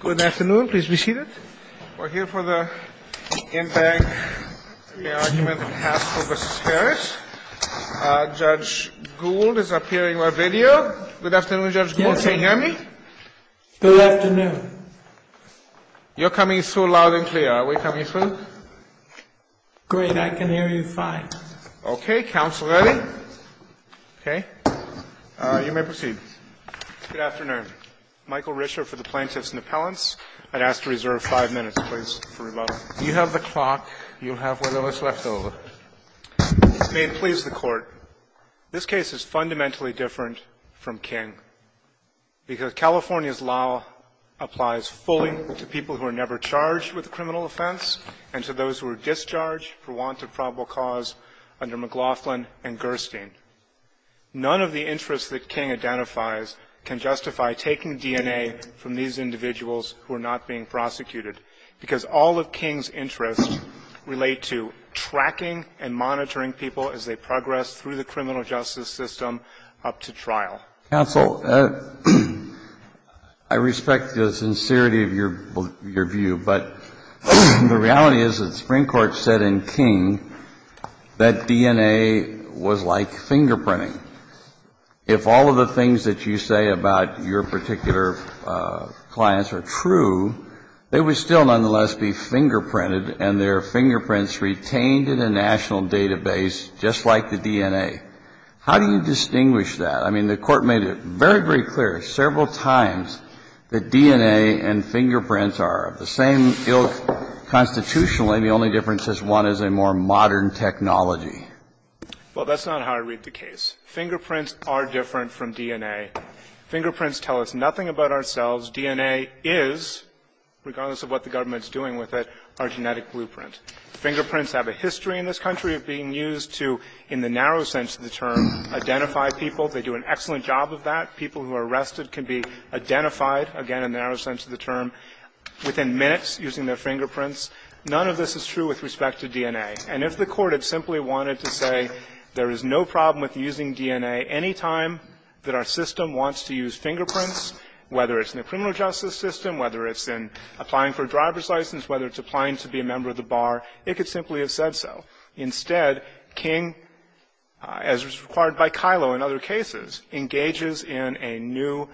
Good afternoon. Please be seated. We're here for the impact of the argument on Haskell v. Harris. Judge Gould is appearing on video. Good afternoon, Judge Gould. Can you hear me? Good afternoon. You're coming through loud and clear. Are we coming through? Great. I can hear you fine. Okay. Counsel ready? Okay. You may proceed. Good afternoon. Michael Rischer for the Plaintiffs' and Appellants. I'd ask to reserve five minutes, please, for rebuttal. If you have the clock, you'll have whatever's left over. May it please the Court. This case is fundamentally different from King because California's law applies fully to people who are never charged with a criminal offense and to those who are discharged for want of probable cause under McLaughlin and Gerstein. None of the interests that King identifies can justify taking DNA from these individuals who are not being prosecuted, because all of King's interests relate to tracking and monitoring people as they progress through the criminal justice system up to trial. Counsel, I respect the sincerity of your view, but the reality is that the Supreme Court said in King that DNA was like fingerprinting. If all of the things that you say about your particular clients are true, they would still nonetheless be fingerprinted and their fingerprints retained in a national database just like the DNA. How do you distinguish that? I mean, the Court made it very, very clear several times that DNA and fingerprints are of the same ilk constitutionally. The only difference is one is a more modern technology. Well, that's not how I read the case. Fingerprints are different from DNA. Fingerprints tell us nothing about ourselves. DNA is, regardless of what the government's doing with it, our genetic blueprint. Fingerprints have a history in this country of being used to, in the narrow sense of the term, identify people. They do an excellent job of that. People who are arrested can be identified, again, in the narrow sense of the term, within minutes using their fingerprints. None of this is true with respect to DNA. And if the Court had simply wanted to say there is no problem with using DNA any time that our system wants to use fingerprints, whether it's in the criminal justice system, whether it's in applying for a driver's license, whether it's applying to be a member of the bar, it could simply have said so. Instead, King, as was required by Kilo in other cases, engages in a new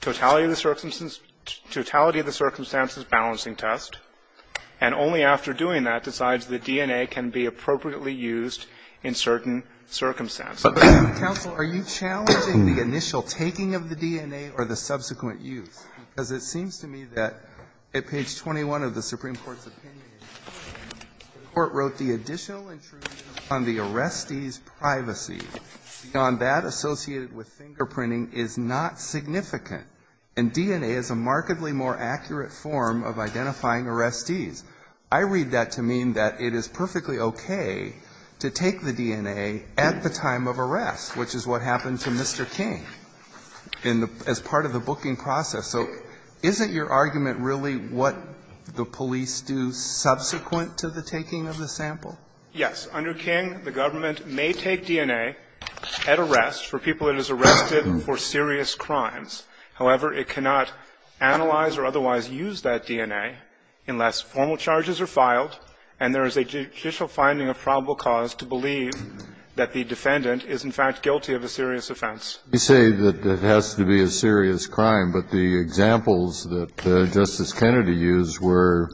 totality of the circumstances balancing test, and only after doing that decides the DNA can be appropriately used in certain circumstances. Alito, are you challenging the initial taking of the DNA or the subsequent use? Because it seems to me that at page 21 of the Supreme Court's opinion, the Court wrote the additional intrusion on the arrestee's privacy. Beyond that, associated with fingerprinting is not significant. And DNA is a markedly more accurate form of identifying arrestees. I read that to mean that it is perfectly okay to take the DNA at the time of arrest, which is what happened to Mr. King in the as part of the booking process. So isn't your argument really what the police do subsequent to the taking of the sample? Yes. Under King, the government may take DNA at arrest for people that is arrested for serious crimes. However, it cannot analyze or otherwise use that DNA unless formal charges are filed and there is a judicial finding of probable cause to believe that the defendant is in fact guilty of a serious offense. You say that it has to be a serious crime, but the examples that Justice Kennedy used were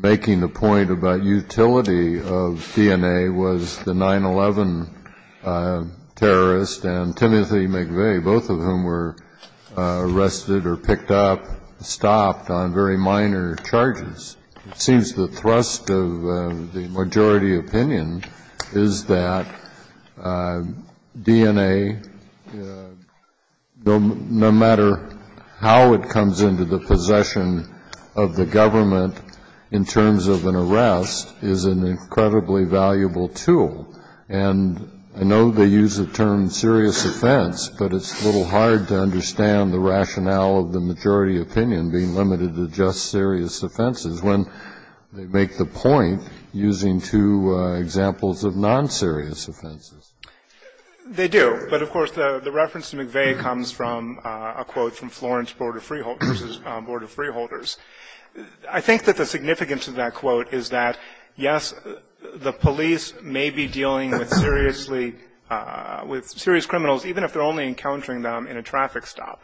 making the point about utility of DNA was the 9-11 terrorist and Timothy McVeigh, both of whom were arrested or picked up, stopped on very minor charges. It seems the thrust of the majority opinion is that DNA, no matter how it comes into possession of the government in terms of an arrest, is an incredibly valuable tool. And I know they use the term serious offense, but it's a little hard to understand the rationale of the majority opinion being limited to just serious offenses when they make the point using two examples of non-serious offenses. They do, but of course the reference to McVeigh comes from a quote from Florence versus Board of Freeholders. I think that the significance of that quote is that, yes, the police may be dealing with seriously, with serious criminals even if they're only encountering them in a traffic stop,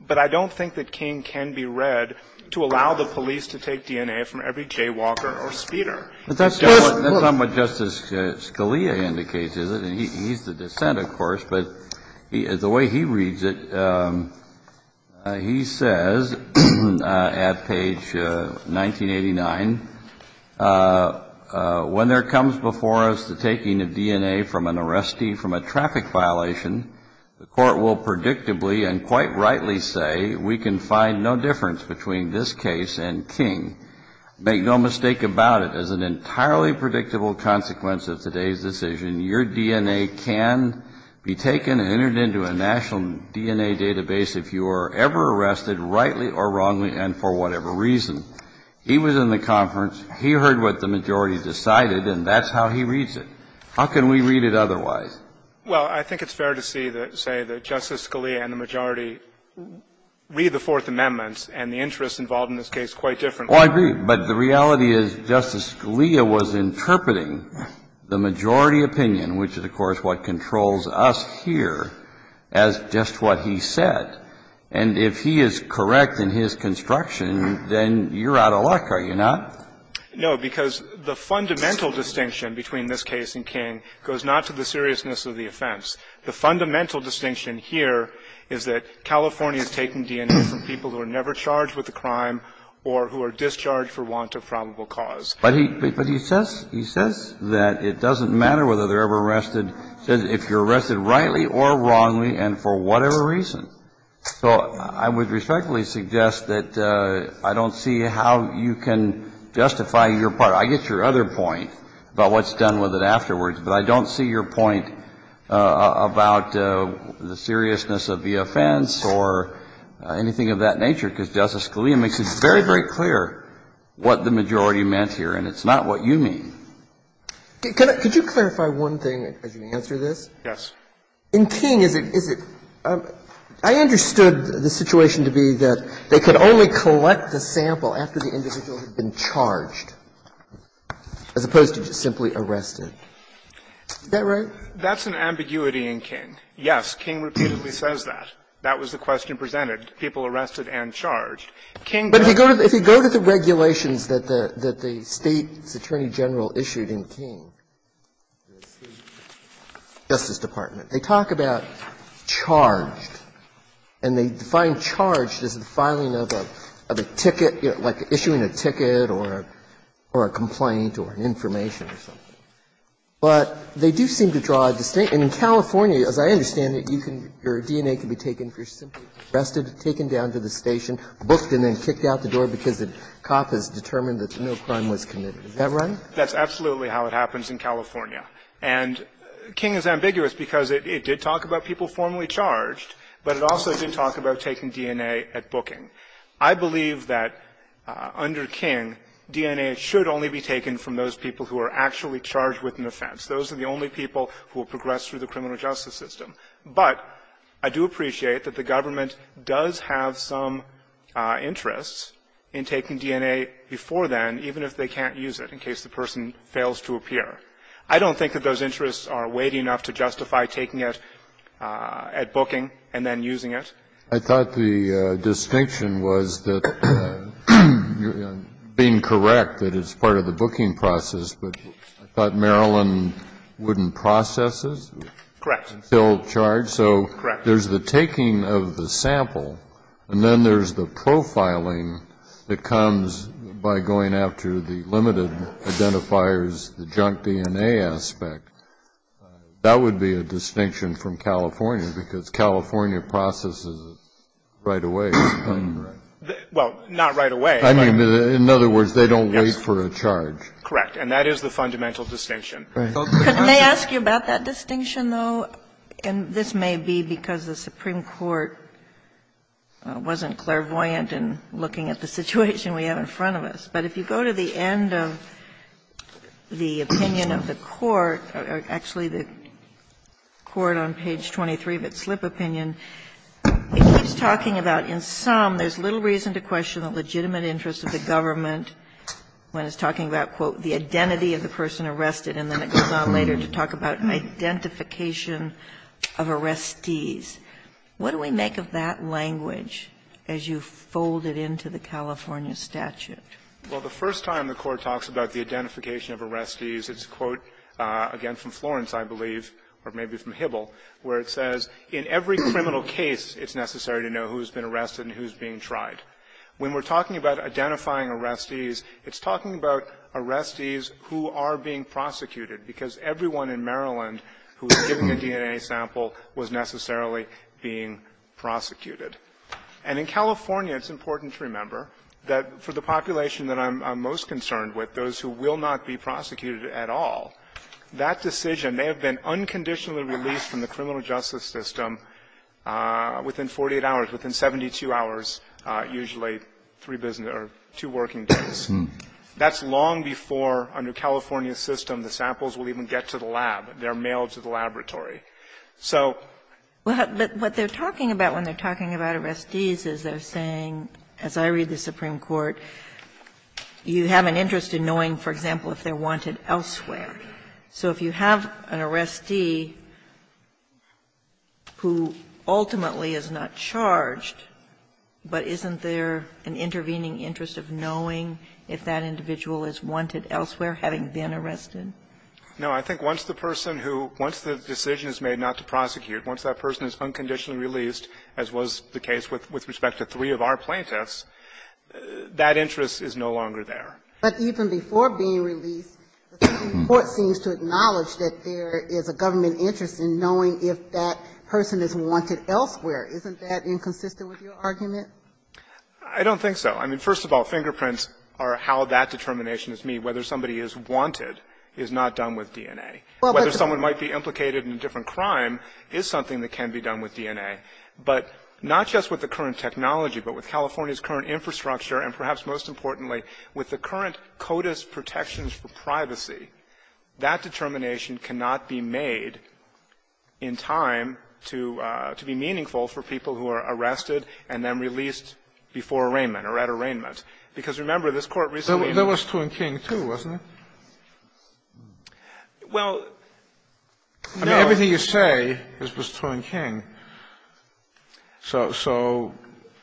but I don't think that King can be read to allow the police to take DNA from every jaywalker or speeder. Kennedy, that's not what Justice Scalia indicates, is it? He's the dissent, of course, but the way he reads it, he says at page 1989, when there comes before us the taking of DNA from an arrestee from a traffic violation, the court will predictably and quite rightly say we can find no difference between this case and King. Make no mistake about it, as an entirely predictable consequence of today's decision, your DNA can be taken and entered into a national DNA database if you are ever arrested rightly or wrongly and for whatever reason. He was in the conference. He heard what the majority decided, and that's how he reads it. How can we read it otherwise? Well, I think it's fair to say that Justice Scalia and the majority read the Fourth Amendment and the interests involved in this case quite differently. Well, I agree, but the reality is Justice Scalia was interpreting the majority opinion, which is, of course, what controls us here, as just what he said. And if he is correct in his construction, then you're out of luck, are you not? No, because the fundamental distinction between this case and King goes not to the seriousness of the offense. The fundamental distinction here is that California is taking DNA from people who are discharged for want of probable cause. But he says that it doesn't matter whether they're ever arrested. He says if you're arrested rightly or wrongly and for whatever reason. So I would respectfully suggest that I don't see how you can justify your part. I get your other point about what's done with it afterwards, but I don't see your point about the seriousness of the offense or anything of that nature, because Justice Scalia makes it very, very clear what the majority meant here. And it's not what you mean. Could you clarify one thing as you answer this? Yes. In King, is it – I understood the situation to be that they could only collect the sample after the individual had been charged, as opposed to just simply arrested. Is that right? That's an ambiguity in King. Yes, King repeatedly says that. That was the question presented. But if you go to the regulations that the State's Attorney General issued in King, the State's Justice Department, they talk about charged, and they define charged as the filing of a ticket, like issuing a ticket or a complaint or an information or something. But they do seem to draw a distinct – and in California, as I understand it, your DNA can be taken if you're simply arrested, taken down to the station, booked, and then kicked out the door because the cop has determined that no crime was committed. Is that right? That's absolutely how it happens in California. And King is ambiguous because it did talk about people formally charged, but it also didn't talk about taking DNA at booking. I believe that under King, DNA should only be taken from those people who are actually charged with an offense. Those are the only people who will progress through the criminal justice system. But I do appreciate that the government does have some interest in taking DNA before then, even if they can't use it in case the person fails to appear. I don't think that those interests are weighty enough to justify taking it at booking and then using it. I thought the distinction was that you're being correct that it's part of the booking process, but I thought Maryland wouldn't process it. Correct. It's still charged, so there's the taking of the sample, and then there's the profiling that comes by going after the limited identifiers, the junk DNA aspect. That would be a distinction from California because California processes it right away. Well, not right away. In other words, they don't wait for a charge. Correct. And that is the fundamental distinction. May I ask you about that distinction, though? And this may be because the Supreme Court wasn't clairvoyant in looking at the situation we have in front of us. But if you go to the end of the opinion of the court, or actually the court on page 23 of its slip opinion, it keeps talking about in sum there's little reason to question the legitimate interest of the government when it's talking about, quote, the identity of the person arrested, and then it goes on later to talk about identification of arrestees. What do we make of that language as you fold it into the California statute? Well, the first time the court talks about the identification of arrestees, it's, quote, again from Florence, I believe, or maybe from Hibble, where it says in every criminal case it's necessary to know who's been arrested and who's being tried. When we're talking about identifying arrestees, it's talking about arrestees who are being prosecuted, because everyone in Maryland who was given the DNA sample was necessarily being prosecuted. And in California, it's important to remember that for the population that I'm most concerned with, those who will not be prosecuted at all, that decision may have been unconditionally released from the criminal justice system within 48 hours, within 72 hours, usually three business or two working days. That's long before, under California's system, the samples will even get to the lab. They're mailed to the laboratory. So what they're talking about when they're talking about arrestees is they're saying, as I read the Supreme Court, you have an interest in knowing, for example, if they're wanted elsewhere. So if you have an arrestee who ultimately is not charged, but isn't there an intervening interest of knowing if that individual is wanted elsewhere, having been arrested? No. I think once the person who, once the decision is made not to prosecute, once that person is unconditionally released, as was the case with respect to three of our plaintiffs, that interest is no longer there. But even before being released, the Supreme Court seems to acknowledge that there is a government interest in knowing if that person is wanted elsewhere. Isn't that inconsistent with your argument? I don't think so. I mean, first of all, fingerprints are how that determination is made. Whether somebody is wanted is not done with DNA. Whether someone might be implicated in a different crime is something that can be done with DNA. But not just with the current technology, but with California's current infrastructure and, perhaps most importantly, with the current CODIS protections for privacy, that determination cannot be made in time to be meaningful for people who are arrested and then released before arraignment or at arraignment. Because, remember, this Court recently in this Court recently in this Court recently There was Thorn King, too, wasn't there? Well, I mean, everything you say was Thorn King. So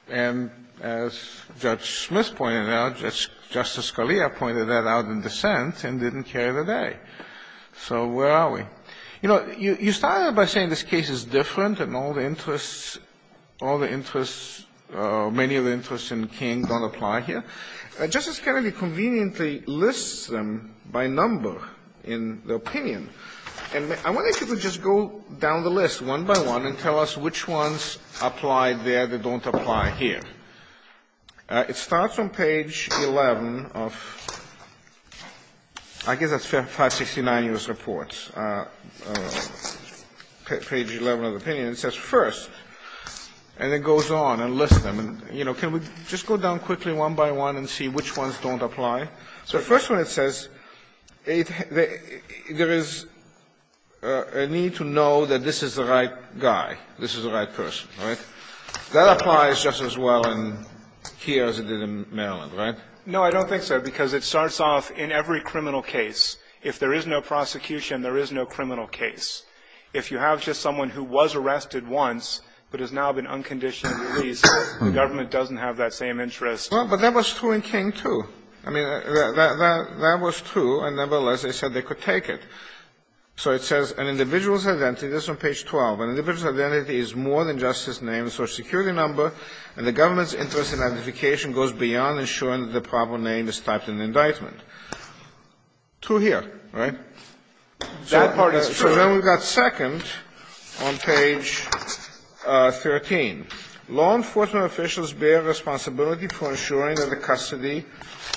and as Judge Smith pointed out, Justice Scalia pointed that out in dissent and didn't carry the day. So where are we? You know, you started by saying this case is different and all the interests all the interests, many of the interests in King don't apply here. Justice Kennedy conveniently lists them by number in the opinion. And I want you to just go down the list one by one and tell us which ones apply there that don't apply here. It starts on page 11 of I guess that's 569 U.S. Reports, page 11 of the opinion. It says first, and it goes on and lists them. And, you know, can we just go down quickly one by one and see which ones don't apply? So first one, it says there is a need to know that this is the right guy. This is the right person, right? That applies just as well here as it did in Maryland, right? No, I don't think so, because it starts off in every criminal case. If there is no prosecution, there is no criminal case. If you have just someone who was arrested once but has now been unconditionally released, the government doesn't have that same interest. Well, but that was Thorn King, too. I mean, that was true, and nevertheless, they said they could take it. So it says an individual's identity is on page 12. An individual's identity is more than just his name and social security number, and the government's interest in identification goes beyond ensuring that the proper name is typed in the indictment. True here, right? That part is true. So then we've got second on page 13. Law enforcement officials bear responsibility for ensuring that the custody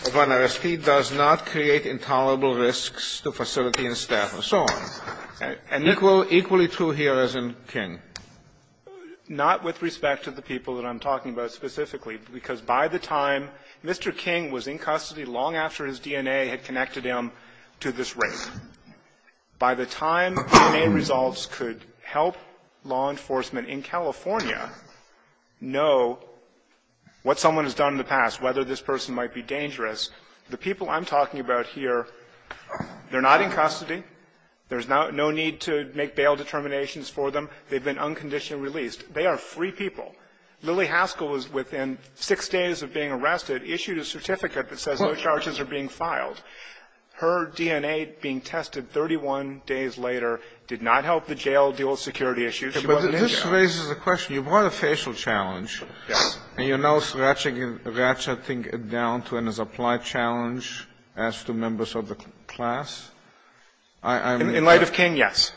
of an arrestee does not create intolerable risks to facility and staff and so on. And equally true here as in King. Not with respect to the people that I'm talking about specifically, because by the time Mr. King was in custody long after his DNA had connected him to this rape, by the time DNA results could help law enforcement in California know what someone has done in the past, whether this person might be dangerous, the people I'm talking about here, they're not in custody. There's no need to make bail determinations for them. They've been unconditionally released. They are free people. Lily Haskell was within six days of being arrested, issued a certificate that says no charges are being filed. Her DNA being tested 31 days later did not help the jail deal security issues. She wasn't in jail. But this raises a question. You brought a facial challenge. Yes. And you're now ratcheting it down to an applied challenge as to members of the class? In light of King, yes.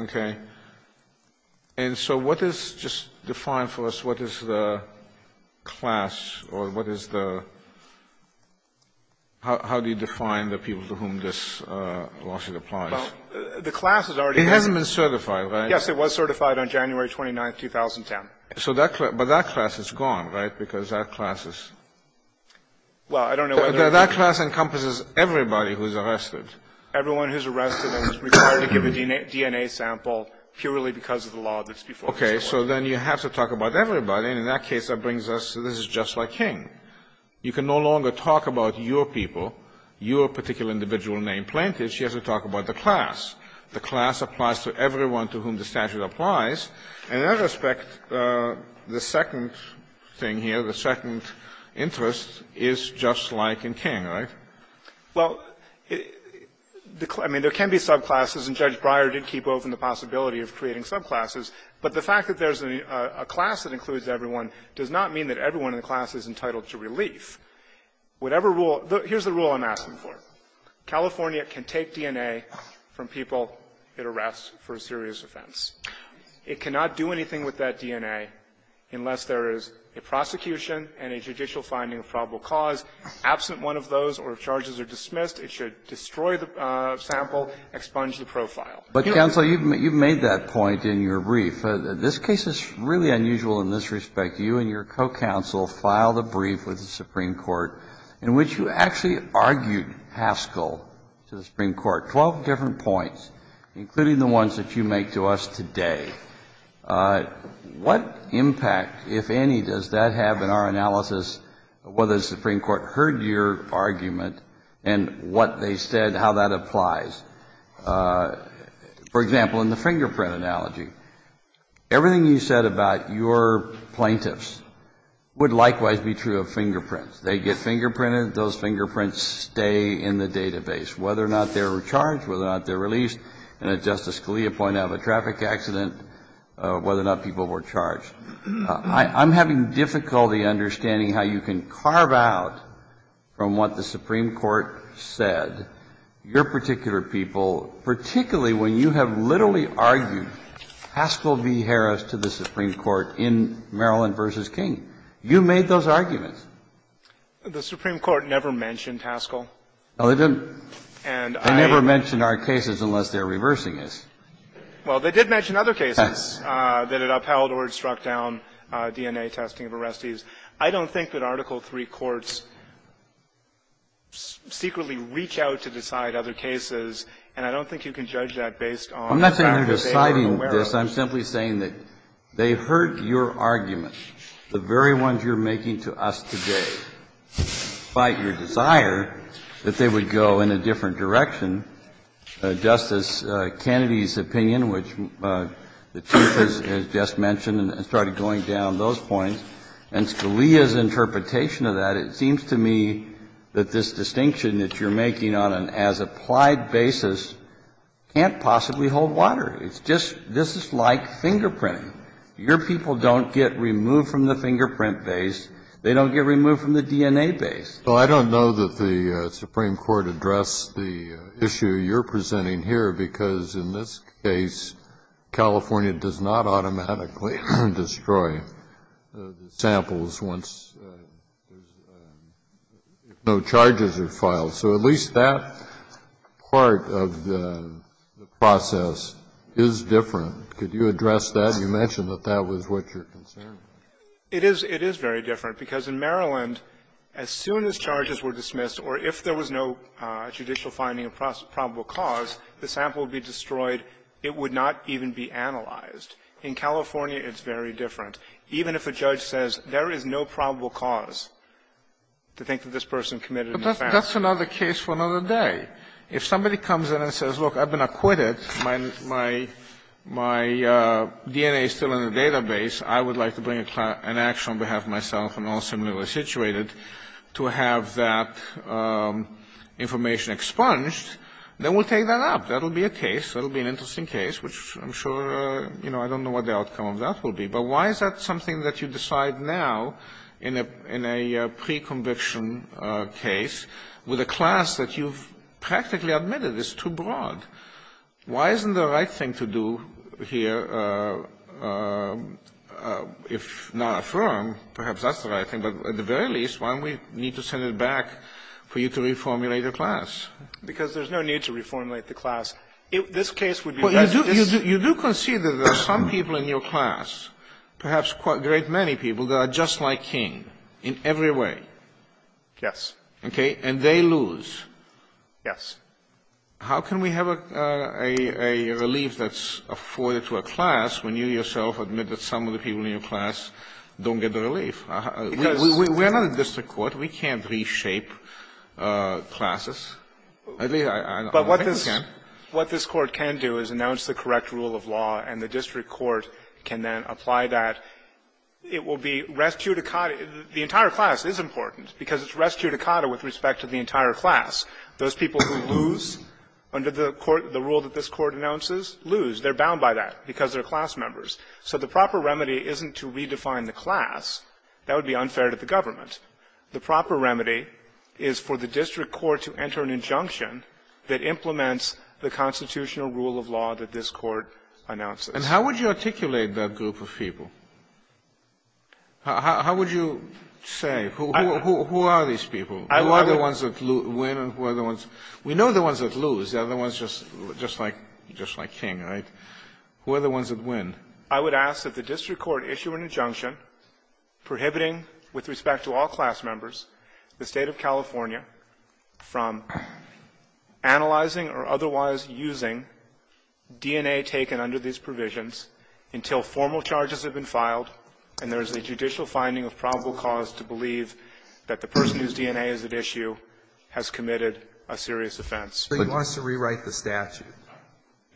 Okay. And so what is just defined for us? What is the class or what is the – how do you define the people to whom this lawsuit applies? Well, the class has already been – It hasn't been certified, right? Yes. It was certified on January 29th, 2010. So that – but that class is gone, right? Because that class is – Well, I don't know whether – That class encompasses everybody who's arrested. law that's before us. Okay. So then you have to talk about everybody. And in that case, that brings us to this is just like King. You can no longer talk about your people, your particular individual name plaintiff. She has to talk about the class. The class applies to everyone to whom the statute applies. And in that respect, the second thing here, the second interest is just like in King, right? Well, I mean, there can be subclasses, and Judge Breyer did keep open the possibility of creating subclasses. But the fact that there's a class that includes everyone does not mean that everyone in the class is entitled to relief. Whatever rule – here's the rule I'm asking for. California can take DNA from people it arrests for a serious offense. It cannot do anything with that DNA unless there is a prosecution and a judicial finding of probable cause. Absent one of those or if charges are dismissed, it should destroy the sample, expunge the profile. But, counsel, you've made that point in your brief. This case is really unusual in this respect. You and your co-counsel filed a brief with the Supreme Court in which you actually argued Haskell to the Supreme Court, 12 different points, including the ones that you make to us today. What impact, if any, does that have in our analysis whether the Supreme Court heard your argument and what they said, how that applies? For example, in the fingerprint analogy, everything you said about your plaintiffs would likewise be true of fingerprints. They get fingerprinted. Those fingerprints stay in the database, whether or not they were charged, whether or not they're released. And as Justice Scalia pointed out, the traffic accident, whether or not people were charged. I'm having difficulty understanding how you can carve out from what the Supreme Court said your particular people, particularly when you have literally argued Haskell v. Harris to the Supreme Court in Maryland v. King. You made those arguments. The Supreme Court never mentioned Haskell. No, they didn't. And I never mentioned our cases unless they're reversing this. Well, they did mention other cases that it upheld or it struck down DNA testing of arrestees. I don't think that Article III courts secretly reach out to decide other cases, and I don't think you can judge that based on the fact that they were aware of it. I'm not saying you're deciding this. I'm simply saying that they heard your argument, the very ones you're making to us today, despite your desire that they would go in a different direction. Justice Kennedy's opinion, which the Chief has just mentioned and started going down those points, and Scalia's interpretation of that, it seems to me that this distinction that you're making on an as-applied basis can't possibly hold water. It's just this is like fingerprinting. Your people don't get removed from the fingerprint base. They don't get removed from the DNA base. Well, I don't know that the Supreme Court addressed the issue you're presenting here, because in this case, California does not automatically destroy the samples once there's no charges are filed. So at least that part of the process is different. Could you address that? You mentioned that that was what you're concerned with. It is very different, because in Maryland, as soon as charges were dismissed or if there was no judicial finding of probable cause, the sample would be destroyed. It would not even be analyzed. In California, it's very different. Even if a judge says there is no probable cause to think that this person committed an offense. But that's another case for another day. If somebody comes in and says, look, I've been acquitted, my DNA is still in the database. I would like to bring an action on behalf of myself and all similarly situated to have that information expunged, then we'll take that up. That will be a case. That will be an interesting case, which I'm sure, you know, I don't know what the outcome of that will be. But why is that something that you decide now in a pre-conviction case with a class that you've practically admitted is too broad? Why isn't the right thing to do here, if not affirm, perhaps that's the right thing, but at the very least, why don't we need to send it back for you to reformulate a class? Because there's no need to reformulate the class. This case would be just this. Well, you do concede that there are some people in your class, perhaps quite a great many people, that are just like King in every way. Yes. And they lose. Yes. How can we have a relief that's afforded to a class when you yourself admit that some of the people in your class don't get the relief? Because we're not a district court. We can't reshape classes. At least, I don't think we can. But what this Court can do is announce the correct rule of law, and the district court can then apply that. It will be res judicata. The entire class is important, because it's res judicata with respect to the entire class. Those people who lose under the court, the rule that this Court announces, lose. They're bound by that because they're class members. So the proper remedy isn't to redefine the class. That would be unfair to the government. The proper remedy is for the district court to enter an injunction that implements the constitutional rule of law that this Court announces. And how would you articulate that group of people? How would you say? Who are these people? Who are the ones that win and who are the ones? We know the ones that lose. They're the ones just like King, right? Who are the ones that win? I would ask that the district court issue an injunction prohibiting, with respect to all class members, the State of California from analyzing or otherwise using DNA taken under these provisions until formal charges have been filed, and there is a judicial finding of probable cause to believe that the person whose DNA is at issue has committed a serious offense. But you want us to rewrite the statute?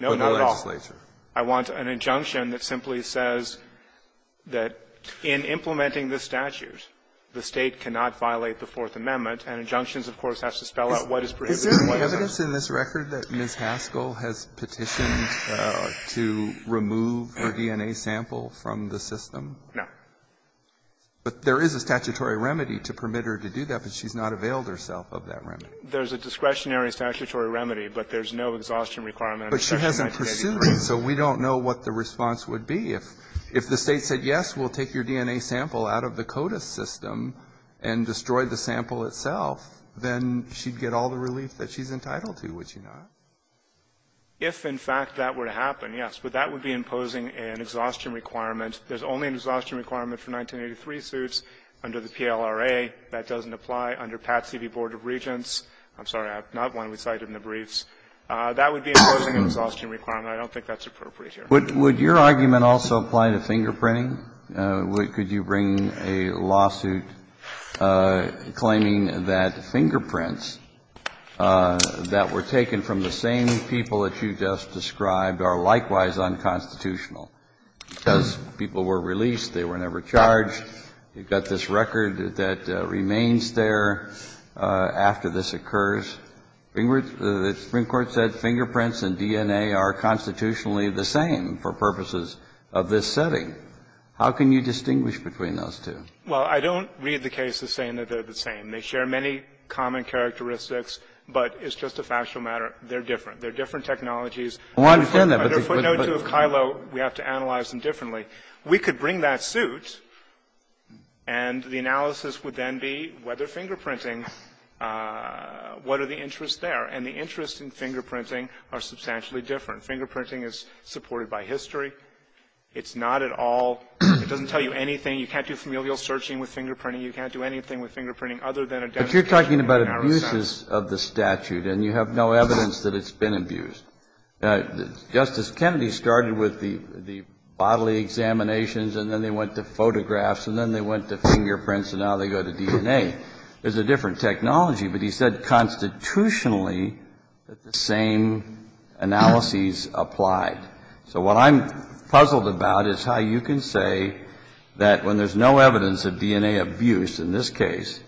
No, not at all. For the legislature. I want an injunction that simply says that in implementing this statute, the State cannot violate the Fourth Amendment, and injunctions, of course, have to spell out what is prohibited and what is not. Is there any evidence in this record that Ms. Haskell has petitioned to remove her DNA sample from the system? No. But there is a statutory remedy to permit her to do that, but she's not availed herself of that remedy. There's a discretionary statutory remedy, but there's no exhaustion requirement under Section 983. But she hasn't pursued it, so we don't know what the response would be. If the State said, yes, we'll take your DNA sample out of the CODIS system and destroy the sample itself, then she'd get all the relief that she's entitled to, would she not? If, in fact, that were to happen, yes. But that would be imposing an exhaustion requirement. There's only an exhaustion requirement for 1983 suits under the PLRA. That doesn't apply under Patsy v. Board of Regents. I'm sorry, not one we cited in the briefs. That would be imposing an exhaustion requirement. I don't think that's appropriate here. Kennedy, would your argument also apply to fingerprinting? Could you bring a lawsuit claiming that fingerprints that were taken from the same people that you just described are likewise unconstitutional? Because people were released, they were never charged. You've got this record that remains there after this occurs. The Supreme Court said fingerprints and DNA are constitutionally the same for purposes of this setting. How can you distinguish between those two? Well, I don't read the cases saying that they're the same. They share many common characteristics, but it's just a factual matter. They're different. They're different technologies. Under footnote 2 of KILO, we have to analyze them differently. We could bring that suit, and the analysis would then be whether fingerprinting – what are the interests there? And the interests in fingerprinting are substantially different. Fingerprinting is supported by history. It's not at all – it doesn't tell you anything. You can't do familial searching with fingerprinting. You can't do anything with fingerprinting other than a demonstration in our research. But you're talking about abuses of the statute, and you have no evidence that it's been abused. Justice Kennedy started with the bodily examinations, and then they went to photographs, and then they went to fingerprints, and now they go to DNA. It's a different technology. But he said constitutionally that the same analyses applied. So what I'm puzzled about is how you can say that when there's no evidence of DNA abuse in this case,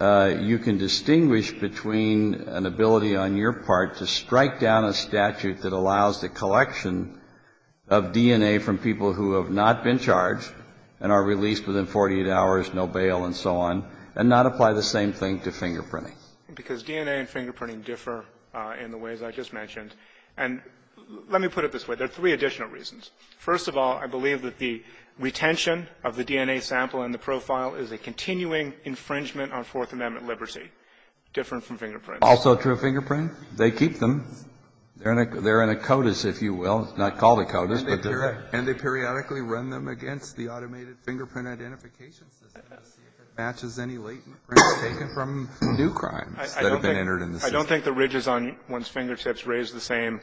you can distinguish between an ability on your part to strike down a statute that allows the collection of DNA from people who have not been charged and are released within 48 hours, no bail and so on, and not apply the same thing to fingerprinting. Because DNA and fingerprinting differ in the ways I just mentioned. And let me put it this way. There are three additional reasons. First of all, I believe that the retention of the DNA sample in the profile is a continuing infringement on Fourth Amendment liberty, different from fingerprints. Also true of fingerprint? They keep them. They're in a codice, if you will. It's not called a codice, but they're there. And they periodically run them against the automated fingerprint identification system to see if it matches any latent prints taken from new crimes that have been entered in the system. I don't think the ridges on one's fingertips raise the same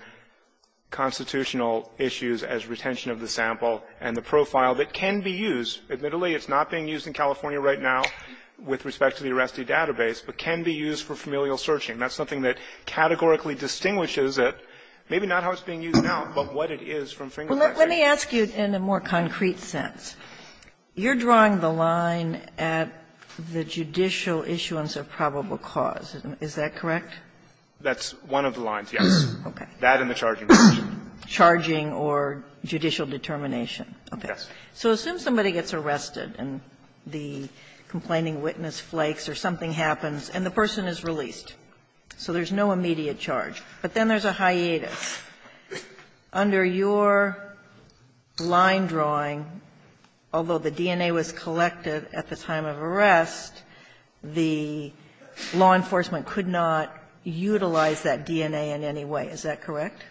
constitutional issues as retention of the sample and the profile that can be used. Admittedly, it's not being used in California right now with respect to the arrestee database, but can be used for familial searching. That's something that categorically distinguishes it, maybe not how it's being used now, but what it is from fingerprinting. Kagan. Well, let me ask you in a more concrete sense. You're drawing the line at the judicial issuance of probable cause. Is that correct? That's one of the lines, yes. Okay. That and the charging question. Charging or judicial determination. Yes. Okay. So assume somebody gets arrested and the complaining witness flakes or something happens and the person is released. So there's no immediate charge. But then there's a hiatus. Under your line drawing, although the DNA was collected at the time of arrest, the law enforcement could not utilize that DNA in any way. Is that correct?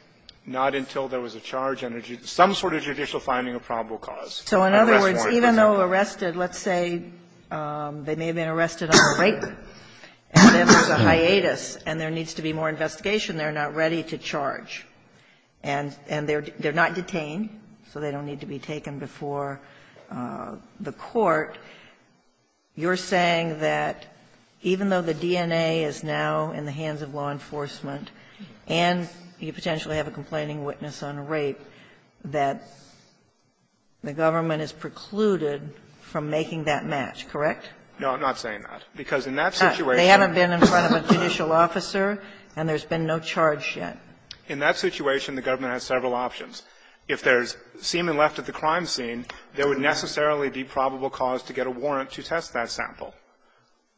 Not until there was a charge under some sort of judicial finding of probable cause. So in other words, even though arrested, let's say they may have been arrested on a rape, and then there's a hiatus and there needs to be more investigation, they're not ready to charge. And they're not detained, so they don't need to be taken before the court. You're saying that even though the DNA is now in the hands of law enforcement and you potentially have a complaining witness on a rape, that the government is precluded from making that match, correct? No, I'm not saying that. Because in that situation they haven't been in front of a judicial officer and there's been no charge yet. In that situation, the government has several options. If there's semen left at the crime scene, there would necessarily be probable cause to get a warrant to test that sample.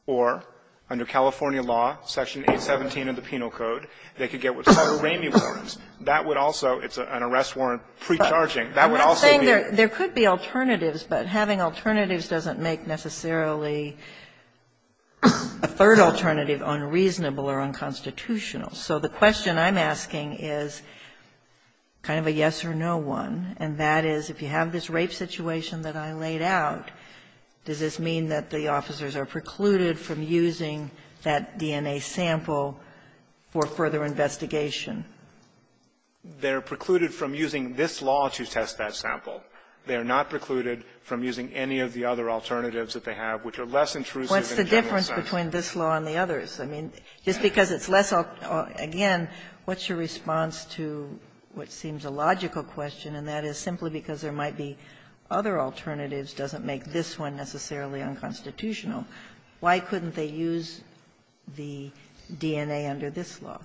Or under California law, Section 817 of the Penal Code, they could get what's called a Ramey warrant. That would also be an arrest warrant pre-charging. That would also be a rape. There could be alternatives, but having alternatives doesn't make necessarily a third alternative unreasonable or unconstitutional. So the question I'm asking is kind of a yes-or-no one, and that is, if you have this rape situation that I laid out, does this mean that the officers are precluded from using that DNA sample for further investigation? They're precluded from using this law to test that sample. They're not precluded from using any of the other alternatives that they have, which are less intrusive in a general sense. Ginsburg. What's the difference between this law and the others? I mean, just because it's less, again, what's your response to what seems a logical question, and that is, simply because there might be other alternatives doesn't make this one necessarily unconstitutional. Why couldn't they use the DNA under this law?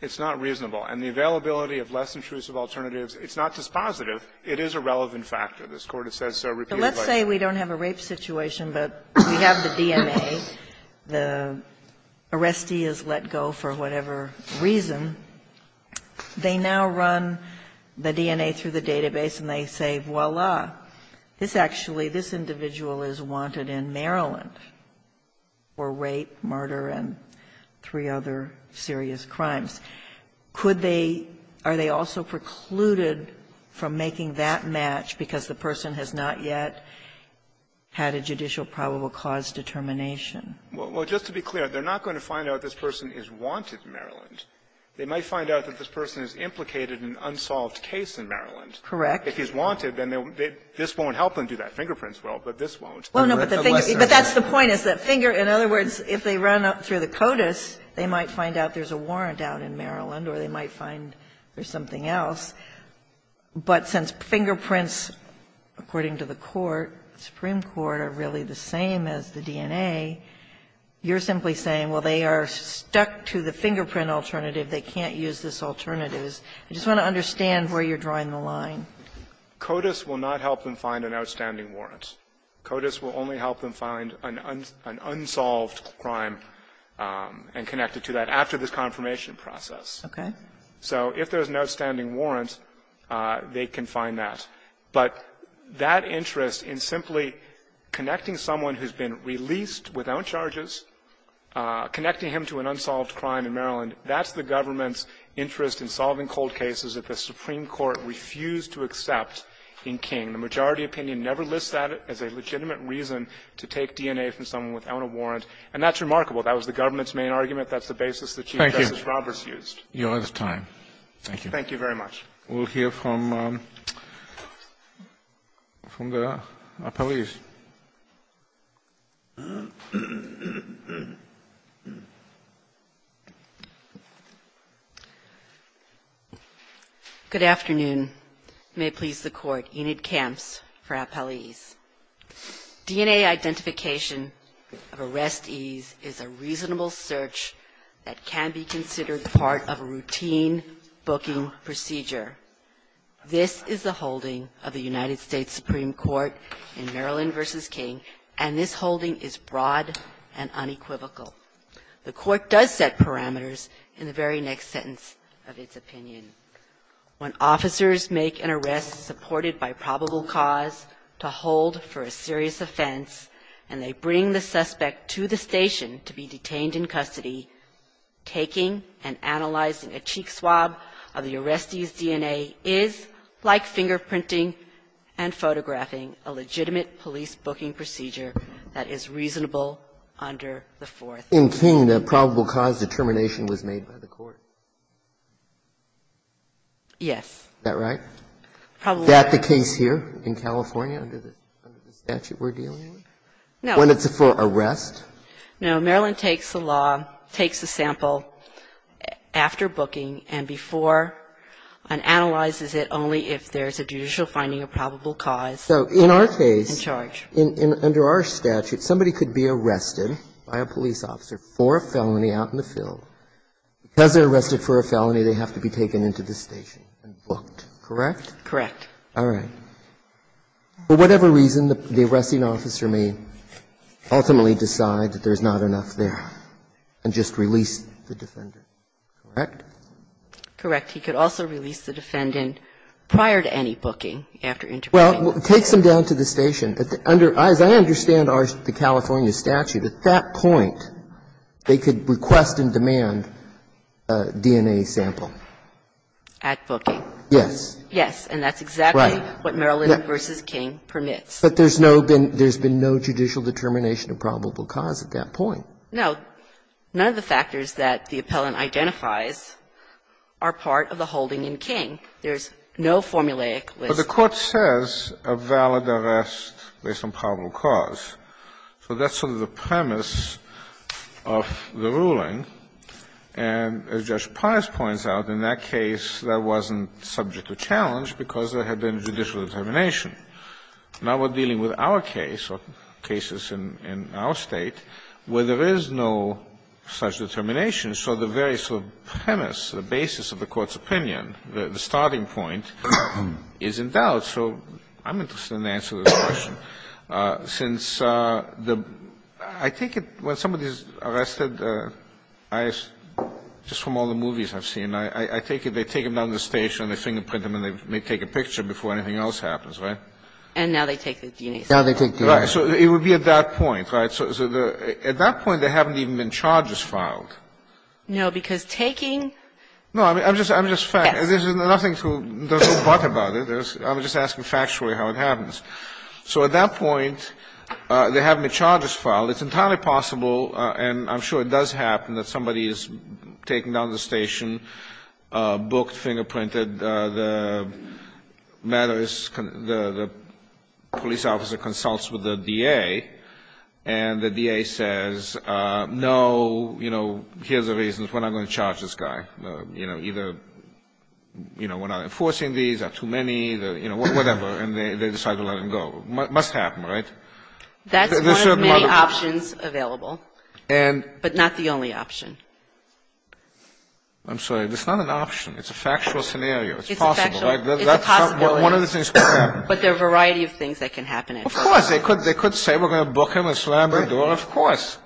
It's not reasonable. And the availability of less intrusive alternatives, it's not dispositive. It is a relevant factor. This Court has said so repeatedly. Kagan. But let's say we don't have a rape situation, but we have the DNA, the arrestee is let go for whatever reason. They now run the DNA through the database, and they say, voila, this actually this individual is wanted in Maryland for rape, murder, and three other serious crimes. Could they or are they also precluded from making that match because the person has not yet had a judicial probable cause determination? Well, just to be clear, they're not going to find out this person is wanted in Maryland. They might find out that this person is implicated in an unsolved case in Maryland. Correct. If he's wanted, then this won't help him do that. Fingerprints will, but this won't. Well, no, but the thing is, but that's the point, is that finger, in other words, if they run up through the CODIS, they might find out there's a warrant out in Maryland or they might find there's something else. But since fingerprints, according to the Court, the Supreme Court, are really the same as the DNA, you're simply saying, well, they are stuck to the fingerprint alternative. They can't use this alternative. I just want to understand where you're drawing the line. CODIS will not help them find an outstanding warrant. CODIS will only help them find an unsolved crime and connect it to that after this confirmation process. Okay. So if there's no standing warrant, they can find that. But that interest in simply connecting someone who's been released without charges, connecting him to an unsolved crime in Maryland, that's the government's interest in solving cold cases that the Supreme Court refused to accept in King. The majority opinion never lists that as a legitimate reason to take DNA from someone without a warrant. And that's remarkable. That was the government's main argument. That's the basis that Chief Justice Roberts used. Thank you. Your time. Thank you. Thank you very much. We'll hear from the appellees. Good afternoon. May it please the Court. Enid Kamps for appellees. DNA identification of arrestees is a reasonable search that can be considered part of a routine booking procedure. This is the holding of the United States Supreme Court in Maryland v. King, and this holding is broad and unequivocal. The Court does set parameters in the very next sentence of its opinion. When officers make an arrest supported by probable cause to hold for a serious offense, and they bring the suspect to the station to be detained in custody, taking and analyzing a cheek swab of the arrestee's DNA is like fingerprinting and photographing a legitimate police booking procedure that is reasonable under the Fourth. In King, the probable cause determination was made by the Court. Yes. Is that right? Probably. Is that the case here in California under the statute we're dealing with? No. When it's for arrest? No. Maryland takes the law, takes a sample after booking and before and analyzes it only if there's a judicial finding of probable cause. So in our case. In charge. Under our statute, somebody could be arrested by a police officer for a felony out in the field. Because they're arrested for a felony, they have to be taken into the station and booked, correct? Correct. All right. And for whatever reason, the arresting officer may ultimately decide that there's not enough there and just release the defendant, correct? Correct. He could also release the defendant prior to any booking, after interviewing them. Well, it takes them down to the station. As I understand the California statute, at that point, they could request and demand DNA sample. At booking. Yes. And that's exactly what Maryland v. King permits. But there's no been no judicial determination of probable cause at that point. No. None of the factors that the appellant identifies are part of the holding in King. There's no formulaic list. But the Court says a valid arrest based on probable cause. So that's sort of the premise of the ruling. And as Judge Paris points out, in that case, that wasn't subject to challenge because there had been judicial determination. Now we're dealing with our case, or cases in our State, where there is no such determination. So the very sort of premise, the basis of the Court's opinion, the starting point, is in doubt. So I'm interested in answering this question. Since the – I take it when somebody is arrested, just from all the movies I've seen, I take it they take them down to the station, they fingerprint them, and they take a picture before anything else happens, right? And now they take the DNA sample. Now they take the DNA sample. Right. So it would be at that point, right? So at that point, there haven't even been charges filed. No, because taking – No, I'm just – Yes. There's nothing to – there's no but about it. I'm just asking factually how it happens. So at that point, there haven't been charges filed. It's entirely possible, and I'm sure it does happen, that somebody is taken down to the station, booked, fingerprinted. The matter is – the police officer consults with the DA, and the DA says, no, you know, here's the reasons, we're not going to charge this guy. You know, either, you know, we're not enforcing these, there are too many, you know, whatever. And they decide to let him go. It must happen, right? That's one of many options available. But not the only option. I'm sorry. It's not an option. It's a factual scenario. It's possible, right? It's a possibility. One of the things could happen. But there are a variety of things that can happen at that point. Of course. They could say, we're going to book him and slam the door. Of course.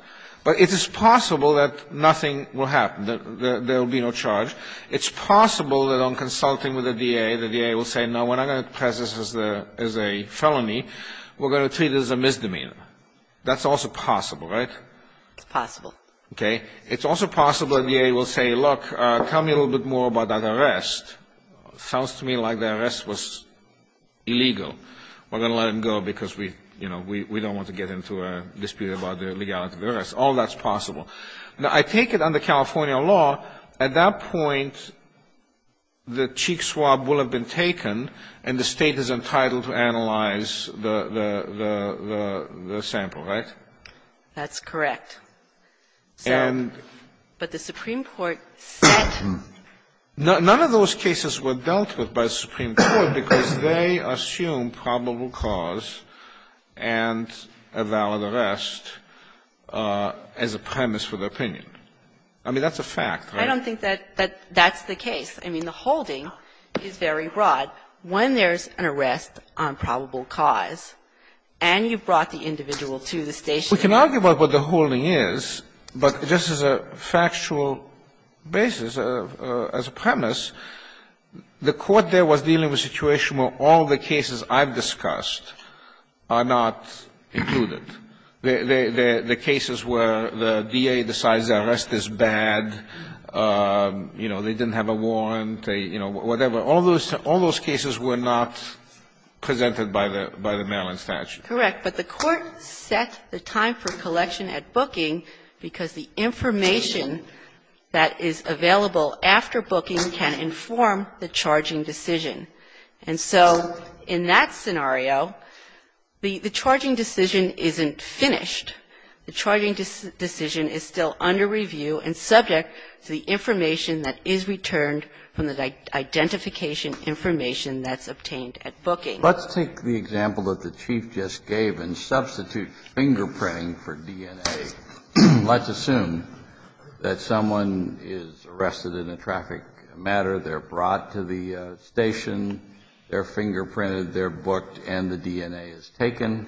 But it is possible that nothing will happen, that there will be no charge. It's possible that I'm consulting with the DA. The DA will say, no, we're not going to press this as a felony. We're going to treat it as a misdemeanor. That's also possible, right? It's possible. Okay. It's also possible the DA will say, look, tell me a little bit more about that arrest. Sounds to me like the arrest was illegal. We're going to let him go because we, you know, we don't want to get into a dispute about the legality of the arrest. All that's possible. Now, I take it under California law, at that point, the cheek swab will have been taken and the State is entitled to analyze the sample, right? That's correct. But the Supreme Court said no. None of those cases were dealt with by the Supreme Court because they assume probable cause and a valid arrest as a premise for their opinion. I mean, that's a fact, right? I don't think that that's the case. I mean, the holding is very broad. When there's an arrest on probable cause and you've brought the individual to the station. We can argue about what the holding is, but just as a factual basis, as a premise, the Court there was dealing with a situation where all the cases I've discussed are not included. The cases where the DA decides the arrest is bad, you know, they didn't have a warrant, you know, whatever, all those cases were not presented by the Maryland statute. Correct. But the Court set the time for collection at booking because the information that is available after booking can inform the charging decision. And so in that scenario, the charging decision isn't finished. The charging decision is still under review and subject to the information that is returned from the identification information that's obtained at booking. Let's take the example that the Chief just gave and substitute fingerprinting for DNA. Let's assume that someone is arrested in a traffic matter. They're brought to the station. They're fingerprinted. They're booked and the DNA is taken.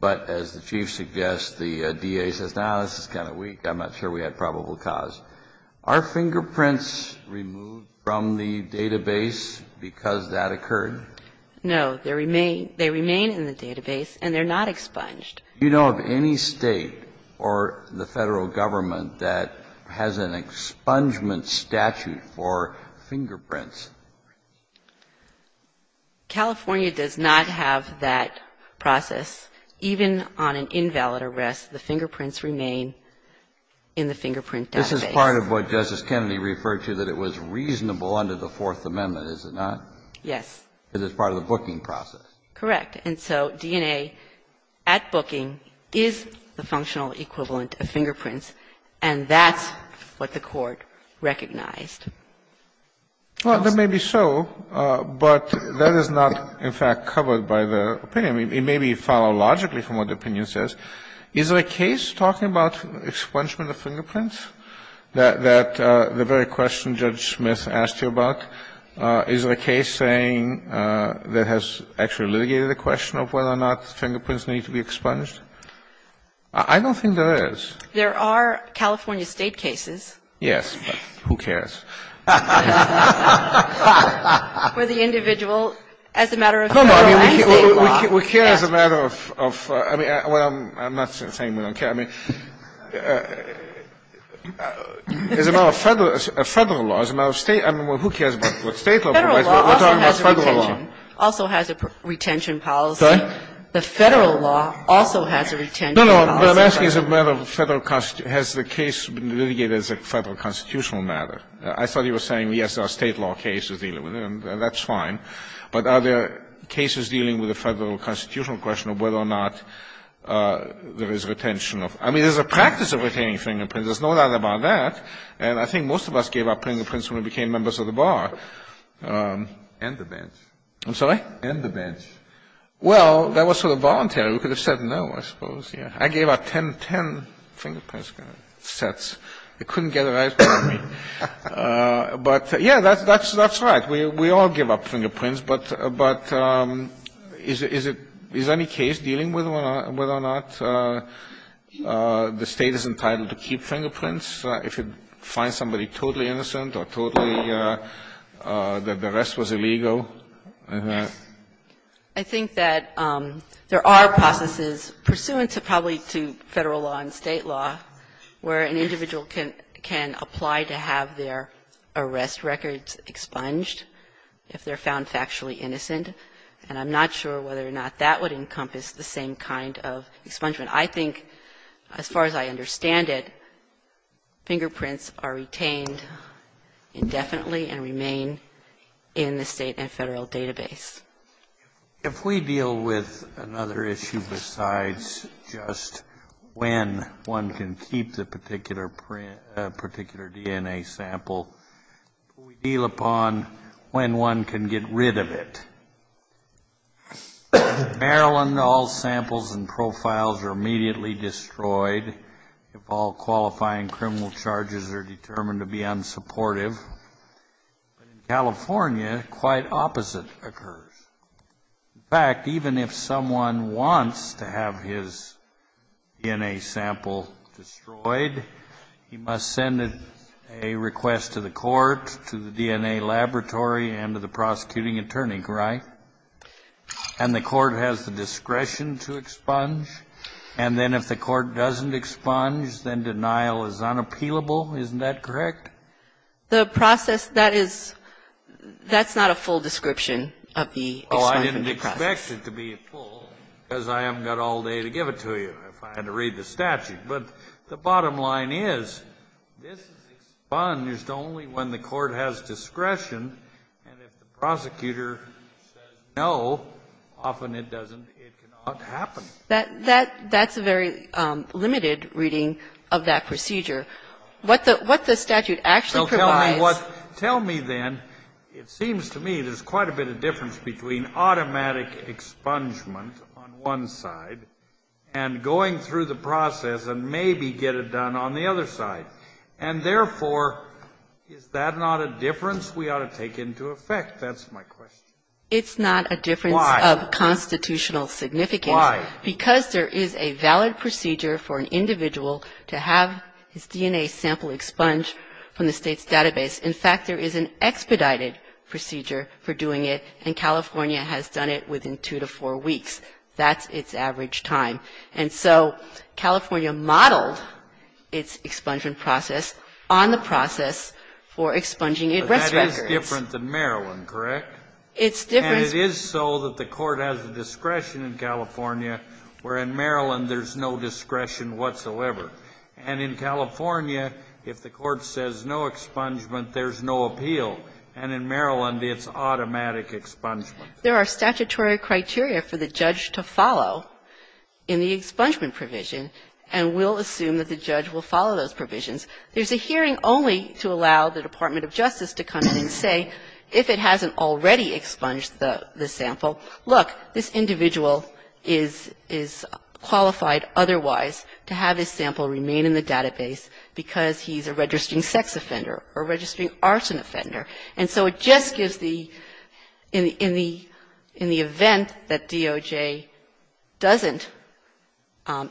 But as the Chief suggests, the DA says, no, this is kind of weak. I'm not sure we had probable cause. Are fingerprints removed from the database because that occurred? No. They remain in the database and they're not expunged. Do you know of any State or the Federal Government that has an expungement statute for fingerprints? California does not have that process. Even on an invalid arrest, the fingerprints remain in the fingerprint database. This is part of what Justice Kennedy referred to that it was reasonable under the Fourth Amendment, is it not? Yes. Because it's part of the booking process. Correct. And so DNA at booking is the functional equivalent of fingerprints, and that's what the Court recognized. Well, that may be so, but that is not, in fact, covered by the opinion. It may be followed logically from what the opinion says. Is there a case talking about expungement of fingerprints that the very question Judge Smith asked you about? Is there a case saying that has actually litigated the question of whether or not fingerprints need to be expunged? I don't think there is. There are California State cases. Yes, but who cares? For the individual, as a matter of Federal and State law. We care as a matter of, I mean, I'm not saying we don't care. I mean, as a matter of Federal law, as a matter of State, I mean, who cares about what State law provides, we're talking about Federal law. Federal law also has a retention policy. Sorry? The Federal law also has a retention policy. No, no, I'm asking as a matter of Federal, has the case been litigated as a Federal constitutional matter? I thought you were saying, yes, there are State law cases dealing with it, and that's fine. But are there cases dealing with the Federal constitutional question of whether or not there is retention of, I mean, there's a practice of retaining fingerprints. There's no doubt about that. And I think most of us gave up fingerprints when we became members of the Bar. And the bench. I'm sorry? And the bench. Well, that was sort of voluntary. We could have said no, I suppose, yes. I gave out ten, ten fingerprints sets. They couldn't get it right for me. But, yes, that's right. We all give up fingerprints. But is it any case dealing with whether or not the State is entitled to keep fingerprints if it finds somebody totally innocent or totally that the rest was illegal? I think that there are processes pursuant to probably to Federal law and State law where an individual can apply to have their arrest records expunged if they're found factually innocent. And I'm not sure whether or not that would encompass the same kind of expungement. I think, as far as I understand it, fingerprints are retained indefinitely and remain in the State and Federal database. If we deal with another issue besides just when one can keep the particular DNA sample, we deal upon when one can get rid of it. In Maryland, all samples and profiles are immediately destroyed if all qualifying criminal charges are determined to be unsupportive. But in California, quite opposite occurs. In fact, even if someone wants to have his DNA sample destroyed, he must send a request to the court, to the DNA laboratory, and to the prosecuting attorney. Right? And the court has the discretion to expunge. And then if the court doesn't expunge, then denial is unappealable. Isn't that correct? The process that is, that's not a full description of the expungement process. Oh, I didn't expect it to be full, because I haven't got all day to give it to you if I had to read the statute. But the bottom line is, this is expunged only when the court has discretion, and if the prosecutor says no, often it doesn't, it cannot happen. That's a very limited reading of that procedure. What the statute actually provides. Tell me then, it seems to me there's quite a bit of difference between automatic expungement on one side and going through the process and maybe get it done on the other side. And therefore, is that not a difference we ought to take into effect? That's my question. It's not a difference of constitutional significance. Why? Because there is a valid procedure for an individual to have his DNA sample expunged from the State's database. In fact, there is an expedited procedure for doing it, and California has done it within two to four weeks. That's its average time. And so California modeled its expungement process on the process for expunging arrest records. But that is different than Maryland, correct? It's different. And it is so that the Court has a discretion in California, where in Maryland there's no discretion whatsoever. And in California, if the Court says no expungement, there's no appeal. And in Maryland, it's automatic expungement. There are statutory criteria for the judge to follow in the expungement provision, and we'll assume that the judge will follow those provisions. There's a hearing only to allow the Department of Justice to come in and say if it hasn't already expunged the sample, look, this individual is qualified otherwise to have his sample remain in the database because he's a registering sex offender or a registering arson offender. And so it just gives the – in the event that DOJ doesn't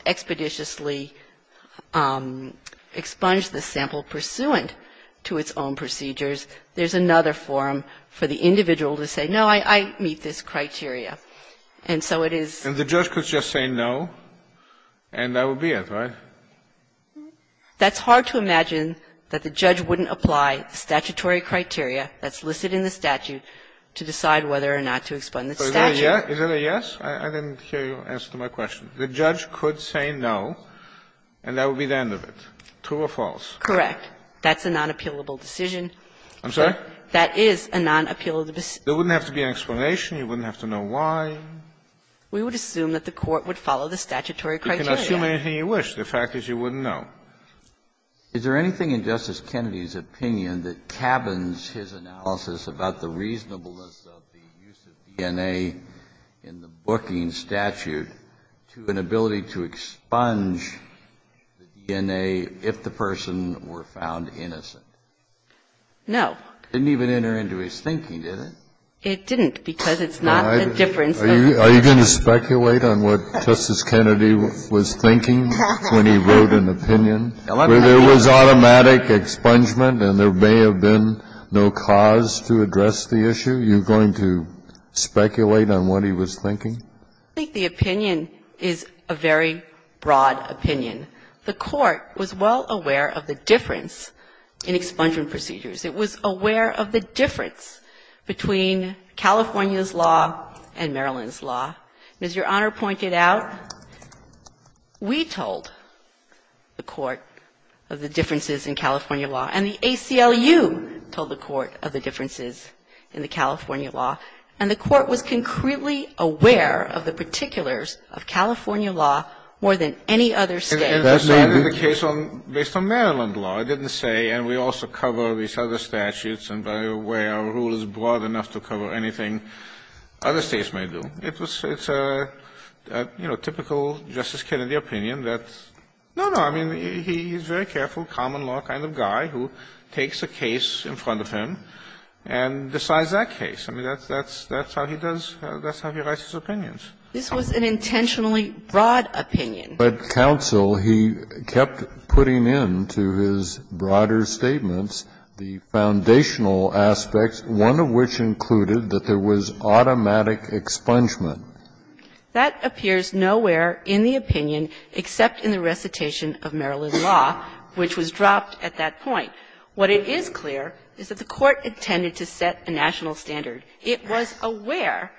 expeditiously expunge the sample pursuant to its own procedures, there's another forum for the individual to say, no, I meet this criteria. And so it is – And the judge could just say no, and that would be it, right? That's hard to imagine that the judge wouldn't apply the statutory criteria that's listed in the statute to decide whether or not to expunge the statute. Is that a yes? I didn't hear you answer my question. The judge could say no, and that would be the end of it. True or false? Correct. That's a nonappealable decision. I'm sorry? That is a nonappealable decision. There wouldn't have to be an explanation. You wouldn't have to know why. We would assume that the Court would follow the statutory criteria. You can assume anything you wish. The fact is you wouldn't know. Is there anything in Justice Kennedy's opinion that cabins his analysis about the reasonableness of the use of DNA in the booking statute to an ability to expunge the DNA if the person were found innocent? No. It didn't even enter into his thinking, did it? It didn't, because it's not the difference of the two. Are you going to speculate on what Justice Kennedy was thinking when he wrote an opinion? There was automatic expungement and there may have been no cause to address the issue. Are you going to speculate on what he was thinking? I think the opinion is a very broad opinion. The Court was well aware of the difference in expungement procedures. It was aware of the difference between California's law and Maryland's law. And as Your Honor pointed out, we told the Court of the differences in California law, and the ACLU told the Court of the differences in the California law. And the Court was concretely aware of the particulars of California law more than any other State. And decided the case based on Maryland law, it didn't say, and we also cover these other statutes, and by the way, our rule is broad enough to cover anything other States may do. It's a, you know, typical Justice Kennedy opinion that's no, no. I mean, he's very careful, common law kind of guy who takes a case in front of him and decides that case. I mean, that's how he does, that's how he writes his opinions. This was an intentionally broad opinion. But counsel, he kept putting into his broader statements the foundational aspects, one of which included that there was automatic expungement. That appears nowhere in the opinion except in the recitation of Maryland law, which was dropped at that point. What it is clear is that the Court intended to set a national standard. It was aware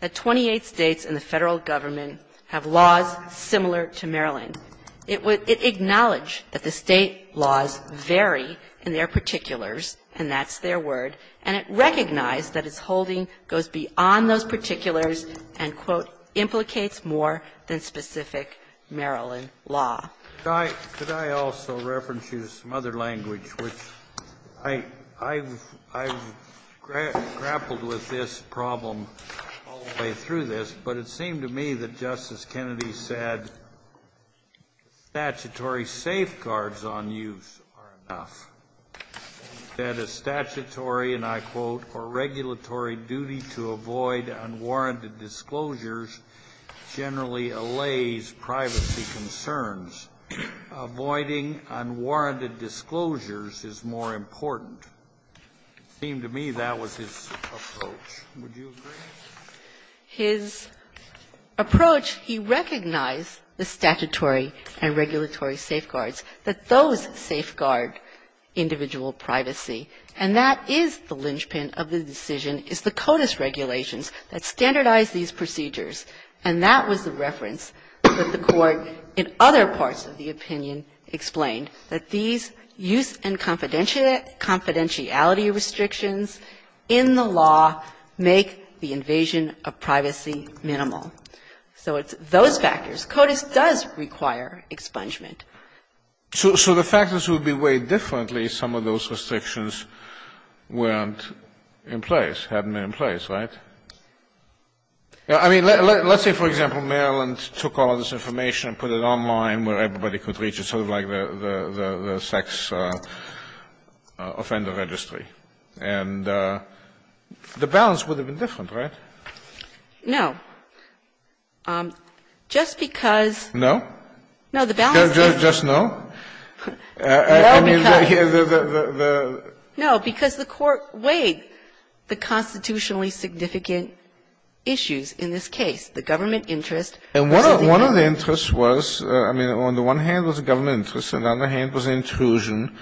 that 28 States and the Federal Government have laws similar to Maryland. It acknowledged that the State laws vary in their particulars, and that's their word, and it recognized that its holding goes beyond those particulars and, quote, implicates more than specific Maryland law. Could I also reference you to some other language, which I've grappled with this problem all the way through this. But it seemed to me that Justice Kennedy said statutory safeguards on use are enough, that a statutory, and I quote, or regulatory duty to avoid unwarranted disclosures generally allays privacy concerns. Avoiding unwarranted disclosures is more important. It seemed to me that was his approach. Would you agree? His approach, he recognized the statutory and regulatory safeguards, that those safeguard individual privacy, and that is the linchpin of the decision, is the CODIS regulations that standardize these procedures, and that was the reference that the Court in other parts of the opinion explained, that these use and confidentiality restrictions in the law make the invasion of privacy minimal. So it's those factors. CODIS does require expungement. So the factors would be weighed differently if some of those restrictions weren't in place, hadn't been in place. Right? I mean, let's say, for example, Maryland took all of this information and put it online where everybody could reach it, sort of like the sex offender registry. And the balance would have been different, right? No. Just because no, no, the balance is just no. No, because the Court weighed the constitutionally significant issues in this case, the government interest. And one of the interests was, I mean, on the one hand was the government interest, and on the other hand was the intrusion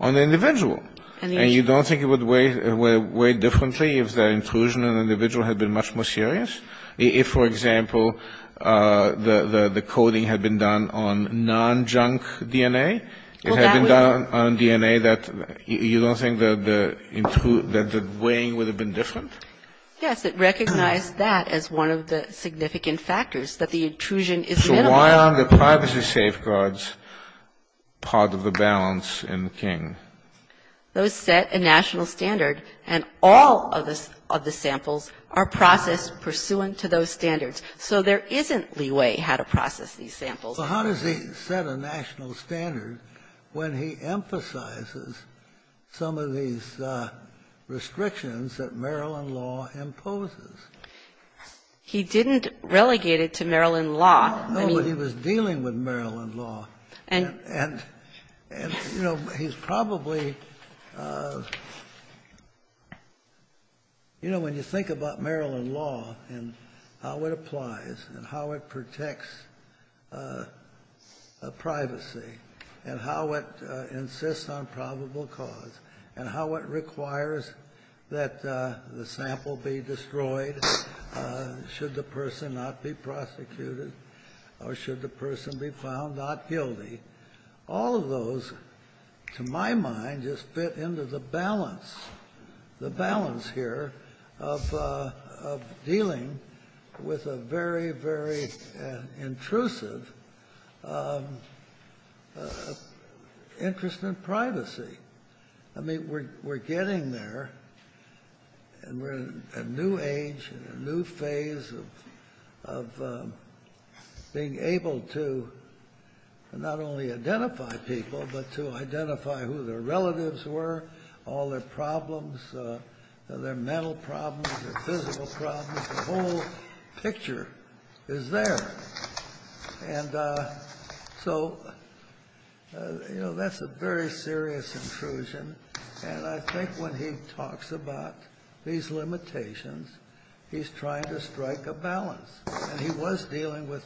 on the individual. And you don't think it would weigh differently if the intrusion on the individual had been much more serious, if, for example, the coding had been done on non-junk DNA, it had been done on DNA that you don't think that the weighing would have been different? Yes. It recognized that as one of the significant factors, that the intrusion is minimal. So why aren't the privacy safeguards part of the balance in King? Those set a national standard, and all of the samples are processed pursuant to those standards. So there isn't leeway how to process these samples. So how does he set a national standard when he emphasizes some of these restrictions that Maryland law imposes? He didn't relegate it to Maryland law. No, but he was dealing with Maryland law. And, you know, he's probably you know, when you think about Maryland law and how it restricts privacy, and how it insists on probable cause, and how it requires that the sample be destroyed should the person not be prosecuted, or should the person be found not guilty. All of those, to my mind, just fit into the balance, the balance here of dealing with a very, very intrusive interest in privacy. I mean, we're getting there, and we're in a new age and a new phase of being able to not only identify people, but to identify who their relatives were, all their problems, their mental problems, their physical problems. The whole picture is there. And so, you know, that's a very serious intrusion. And I think when he talks about these limitations, he's trying to strike a balance. And he was dealing with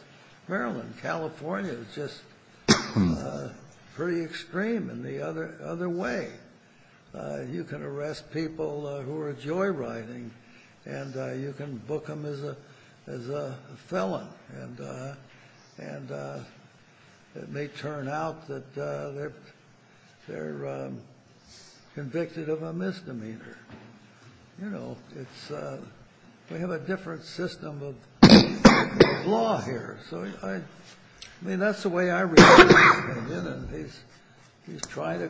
Maryland. California is just pretty extreme in the other way. You can arrest people who are joyriding, and you can book them as a felon. And it may turn out that they're convicted of a misdemeanor. You know, we have a different system of law here. So, I mean, that's the way I read it, and he's trying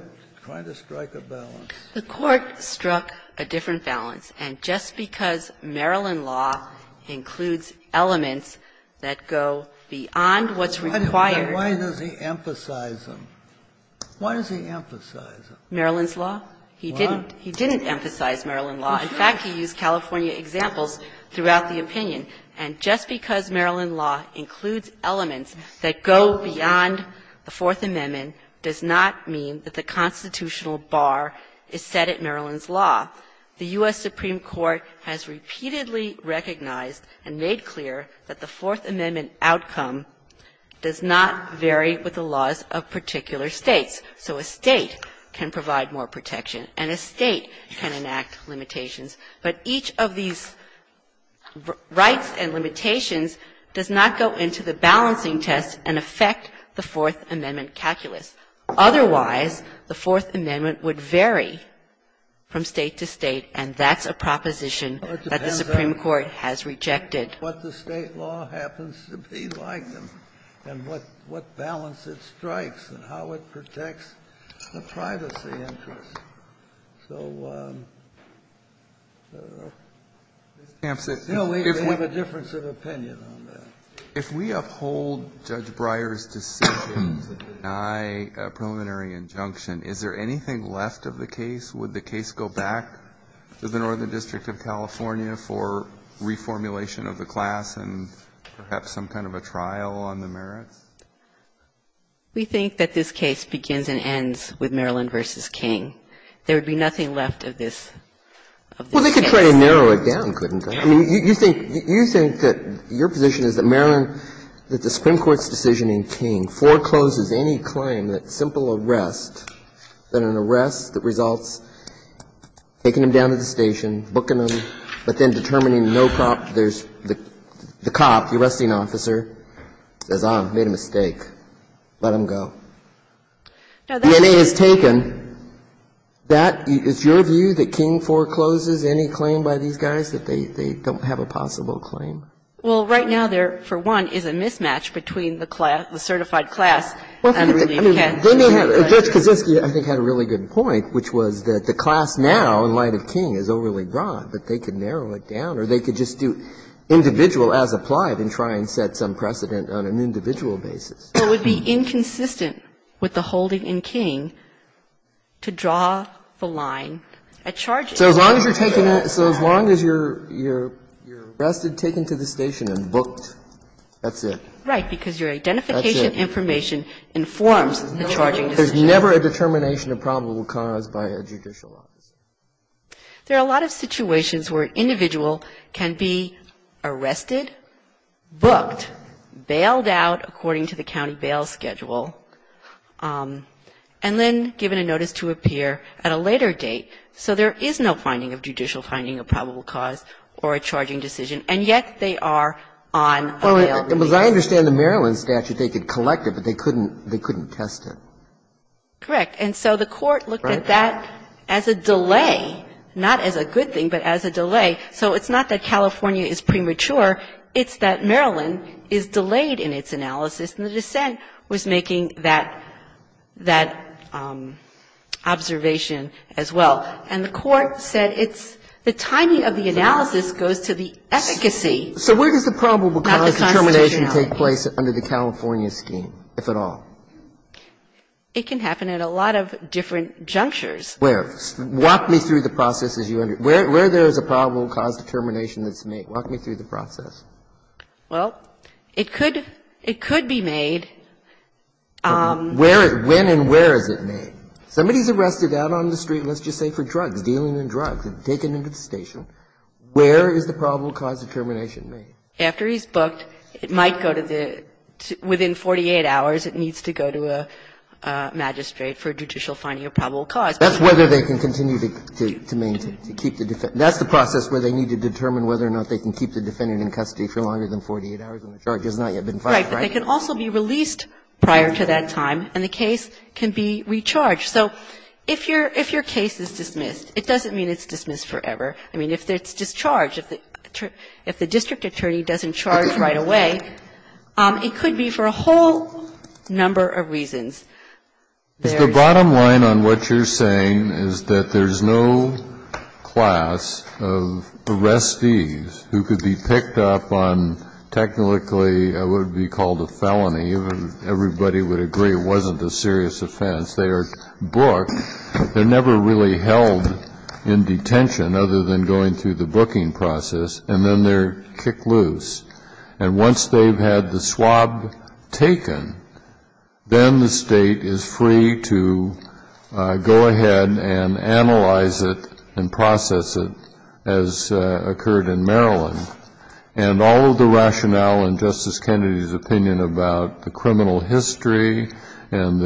to strike a balance. The Court struck a different balance. And just because Maryland law includes elements that go beyond what's required Why does he emphasize them? Why does he emphasize them? Maryland's law? He didn't emphasize Maryland law. In fact, he used California examples throughout the opinion. And just because Maryland law includes elements that go beyond the Fourth Amendment does not mean that the constitutional bar is set at Maryland's law. The U.S. Supreme Court has repeatedly recognized and made clear that the Fourth Amendment outcome does not vary with the laws of particular States. So a State can provide more protection, and a State can enact limitations. But each of these rights and limitations does not go into the balancing test and affect the Fourth Amendment calculus. Otherwise, the Fourth Amendment would vary from State to State, and that's a proposition that the Supreme Court has rejected. Kennedy, what the State law happens to be like, and what balance it strikes, and how it protects the privacy interests. So, I don't know. No, we have a difference of opinion on that. If we uphold Judge Breyer's decision to deny a preliminary injunction, is there anything left of the case? Would the case go back to the Northern District of California for reformulation of the class and perhaps some kind of a trial on the merits? We think that this case begins and ends with Maryland v. King. There would be nothing left of this case. Well, they could try to narrow it down, couldn't they? I mean, you think that your position is that Maryland, that the Supreme Court's decision in King forecloses any claim that simple arrest, that an arrest that results taking them down to the station, booking them, but then determining no prompt there's the cop, the arresting officer, says, ah, made a mistake. Let them go. DNA is taken. That, is your view that King forecloses any claim by these guys, that they don't have a possible claim? Well, right now, there, for one, is a mismatch between the class, the certified class and the redeemed class. Judge Kaczynski, I think, had a really good point, which was that the class now, in light of King, is overly broad, but they could narrow it down, or they could just do individual as applied and try and set some precedent on an individual basis. But it would be inconsistent with the holding in King to draw the line at charges. So as long as you're taking a – so as long as you're arrested, taken to the station and booked, that's it. Right, because your identification information informs the charging decision. There's never a determination of probable cause by a judicial office. There are a lot of situations where an individual can be arrested, booked, bailed out according to the county bail schedule, and then given a notice to appear at a later date, so there is no finding of judicial finding of probable cause or a charging decision, and yet they are on a bail basis. Well, as I understand the Maryland statute, they could collect it, but they couldn't test it. Correct. And so the court looked at that as a delay, not as a good thing, but as a delay. So it's not that California is premature. It's that Maryland is delayed in its analysis, and the dissent was making that observation as well. And the court said it's – the timing of the analysis goes to the efficacy, not the constitutionality. So where does the probable cause determination take place under the California scheme, if at all? It can happen at a lot of different junctures. Where? Walk me through the process as you – where there is a probable cause determination that's made. Walk me through the process. Well, it could – it could be made. Where – when and where is it made? Somebody is arrested out on the street, let's just say for drugs, dealing in drugs, and taken into the station. Where is the probable cause determination made? After he's booked, it might go to the – within 48 hours, it needs to go to a magistrate for judicial finding of probable cause. That's whether they can continue to maintain – to keep the – that's the process where they need to determine whether or not they can keep the defendant in custody for longer than 48 hours when the charge has not yet been filed, right? Right. But they can also be released prior to that time, and the case can be recharged. So if your – if your case is dismissed, it doesn't mean it's dismissed forever. I mean, if it's discharged, if the – if the district attorney doesn't charge right away, it could be for a whole number of reasons. Is the bottom line on what you're saying is that there's no class of arrestees who could be picked up on technically what would be called a felony, even if everybody would agree it wasn't a serious offense. They are booked. They're never really held in detention other than going through the booking process, and then they're kicked loose. And once they've had the swab taken, then the state is free to go ahead and analyze it and process it as occurred in Maryland. And all of the rationale in Justice Kennedy's opinion about the criminal history and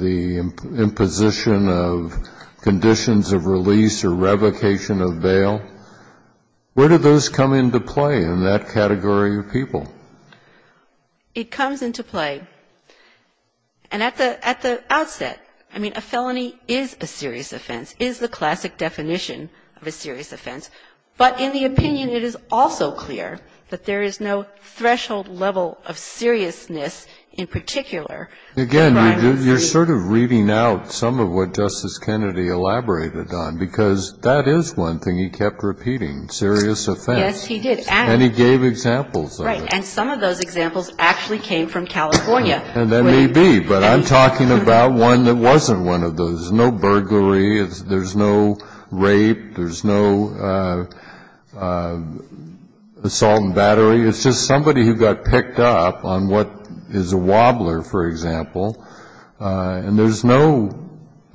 the imposition of conditions of release or revocation of bail, where do those come into play in that category of people? It comes into play. And at the – at the outset, I mean, a felony is a serious offense, is the classic definition of a serious offense. But in the opinion, it is also clear that there is no threshold level of seriousness in particular. Again, you're sort of reading out some of what Justice Kennedy elaborated on, because that is one thing he kept repeating, serious offense. Yes, he did. And he gave examples of it. Right. And some of those examples actually came from California. And they may be, but I'm talking about one that wasn't one of those. There's no burglary. There's no rape. There's no assault and battery. It's just somebody who got picked up on what is a wobbler, for example, and there's no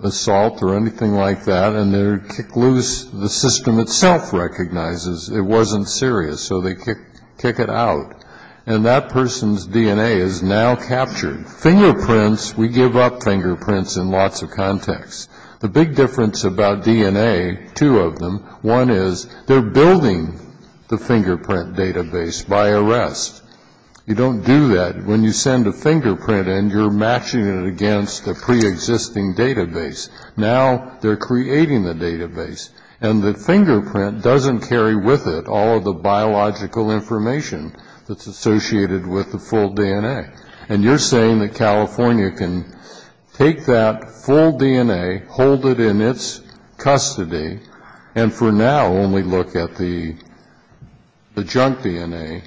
assault or anything like that. And they're kicked loose. The system itself recognizes it wasn't serious. So they kick it out. And that person's DNA is now captured. Fingerprints, we give up fingerprints in lots of contexts. The big difference about DNA, two of them, one is they're building the fingerprint database by arrest. You don't do that. When you send a fingerprint in, you're matching it against a preexisting database. Now they're creating the database. And the fingerprint doesn't carry with it all of the biological information that's associated with the full DNA. And you're saying that California can take that full DNA, hold it in its custody, and for now only look at the junk DNA,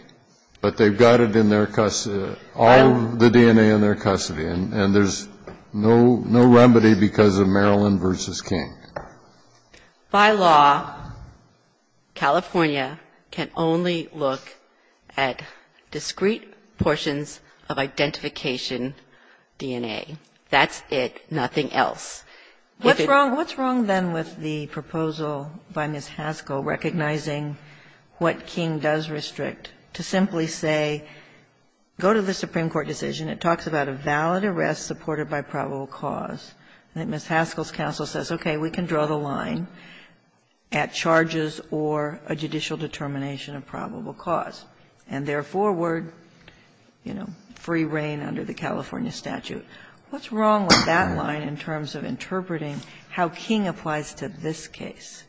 but they've got it in their custody, all of the DNA in their custody, and there's no remedy because of Maryland v. King? By law, California can only look at discrete portions of identification DNA. That's it, nothing else. What's wrong then with the proposal by Ms. Haskell recognizing what King does restrict to simply say, go to the Supreme Court decision, it talks about a valid arrest supported by probable cause, and then Ms. Haskell's counsel says, okay, we can draw the line at charges or a judicial determination of probable cause, and therefore, word, you know, free reign under the California statute. What's wrong with that line in terms of interpreting how King applies to this case?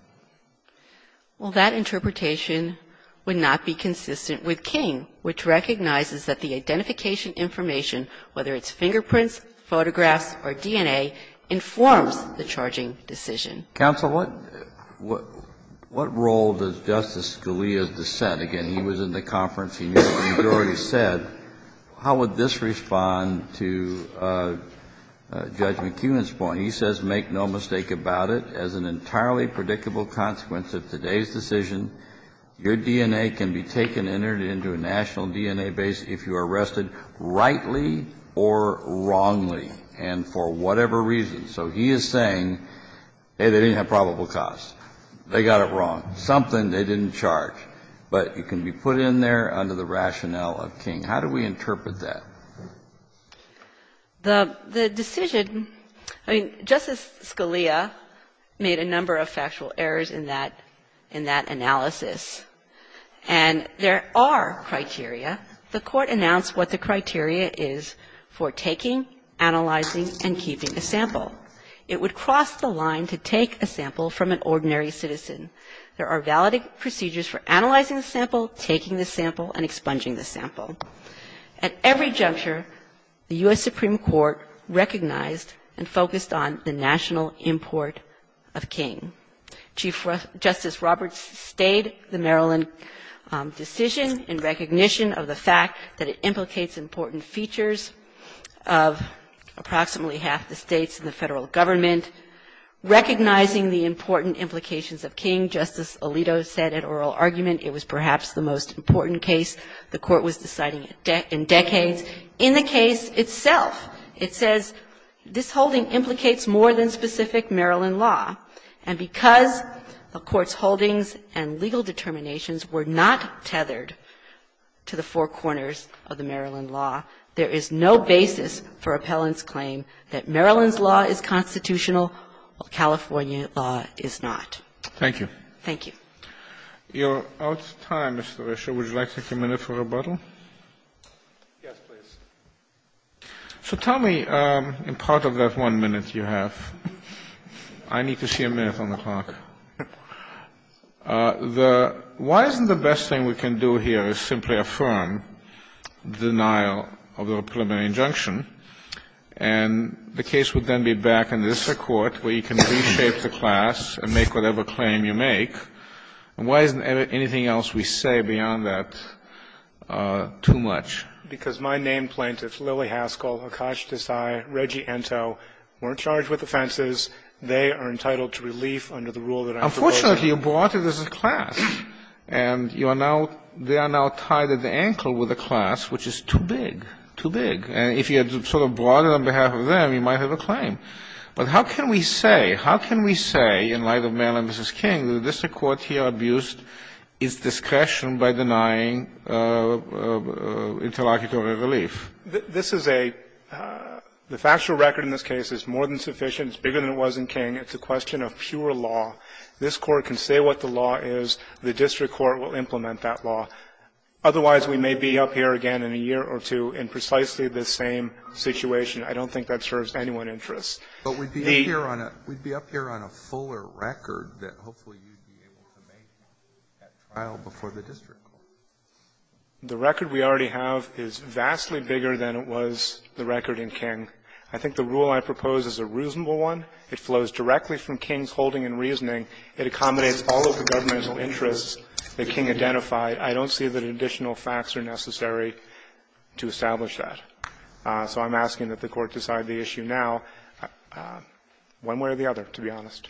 Well, that interpretation would not be consistent with King, which recognizes that the identification information, whether it's fingerprints, photographs, or DNA, informs the charging decision. Counsel, what role does Justice Scalia's dissent, again, he was in the conference and you've already said, how would this respond to Judge McEwen's point? He says, make no mistake about it, as an entirely predictable consequence of today's decision, your DNA can be taken and entered into a national DNA base if you are arrested rightly or wrongly, and for whatever reason. So he is saying, hey, they didn't have probable cause, they got it wrong, something they didn't charge, but it can be put in there under the rationale of King. How do we interpret that? The decision, I mean, Justice Scalia made a number of factual errors in that analysis. And there are criteria. The Court announced what the criteria is for taking, analyzing, and keeping a sample. It would cross the line to take a sample from an ordinary citizen. There are valid procedures for analyzing the sample, taking the sample, and expunging the sample. At every juncture, the U.S. Supreme Court recognized and focused on the national import of King. Chief Justice Roberts stayed the Maryland decision in recognition of the fact that it implicates important features of approximately half the States and the Federal Government. Recognizing the important implications of King, Justice Alito said at oral argument it was perhaps the most important case the Court was deciding in decades. In the case itself, it says this holding implicates more than specific Maryland law, and because the Court's holdings and legal determinations were not tethered to the four corners of the Maryland law, there is no basis for Appellant's claim to be constitutional, while California law is not. Thank you. Thank you. You're out of time, Mr. Risher. Would you like to take a minute for rebuttal? Yes, please. So tell me, in part of that one minute you have, I need to see a minute on the clock. Why isn't the best thing we can do here is simply affirm denial of the preliminary injunction, and the case would then be back in the district court where you can reshape the class and make whatever claim you make, and why isn't anything else we say beyond that too much? Because my named plaintiffs, Lillie Haskell, Akash Desai, Reggie Ento, weren't charged with offenses. They are entitled to relief under the rule that I'm proposing. Unfortunately, you brought it as a class, and you are now they are now tied at the And if you had sort of brought it on behalf of them, you might have a claim. But how can we say, how can we say, in light of Mayor and Mrs. King, that the district court here abused its discretion by denying interlocutory relief? This is a the factual record in this case is more than sufficient. It's bigger than it was in King. It's a question of pure law. This Court can say what the law is. The district court will implement that law. Otherwise, we may be up here again in a year or two in precisely the same situation. I don't think that serves anyone's interest. But we'd be up here on a fuller record that hopefully you'd be able to make that trial before the district court. The record we already have is vastly bigger than it was the record in King. I think the rule I propose is a reasonable one. It flows directly from King's holding and reasoning. It accommodates all of the governmental interests that King identified. I don't see that additional facts are necessary to establish that. So I'm asking that the Court decide the issue now, one way or the other, to be honest.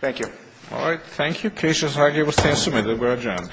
Thank you. All right. Thank you. The case is now submitted. We are adjourned.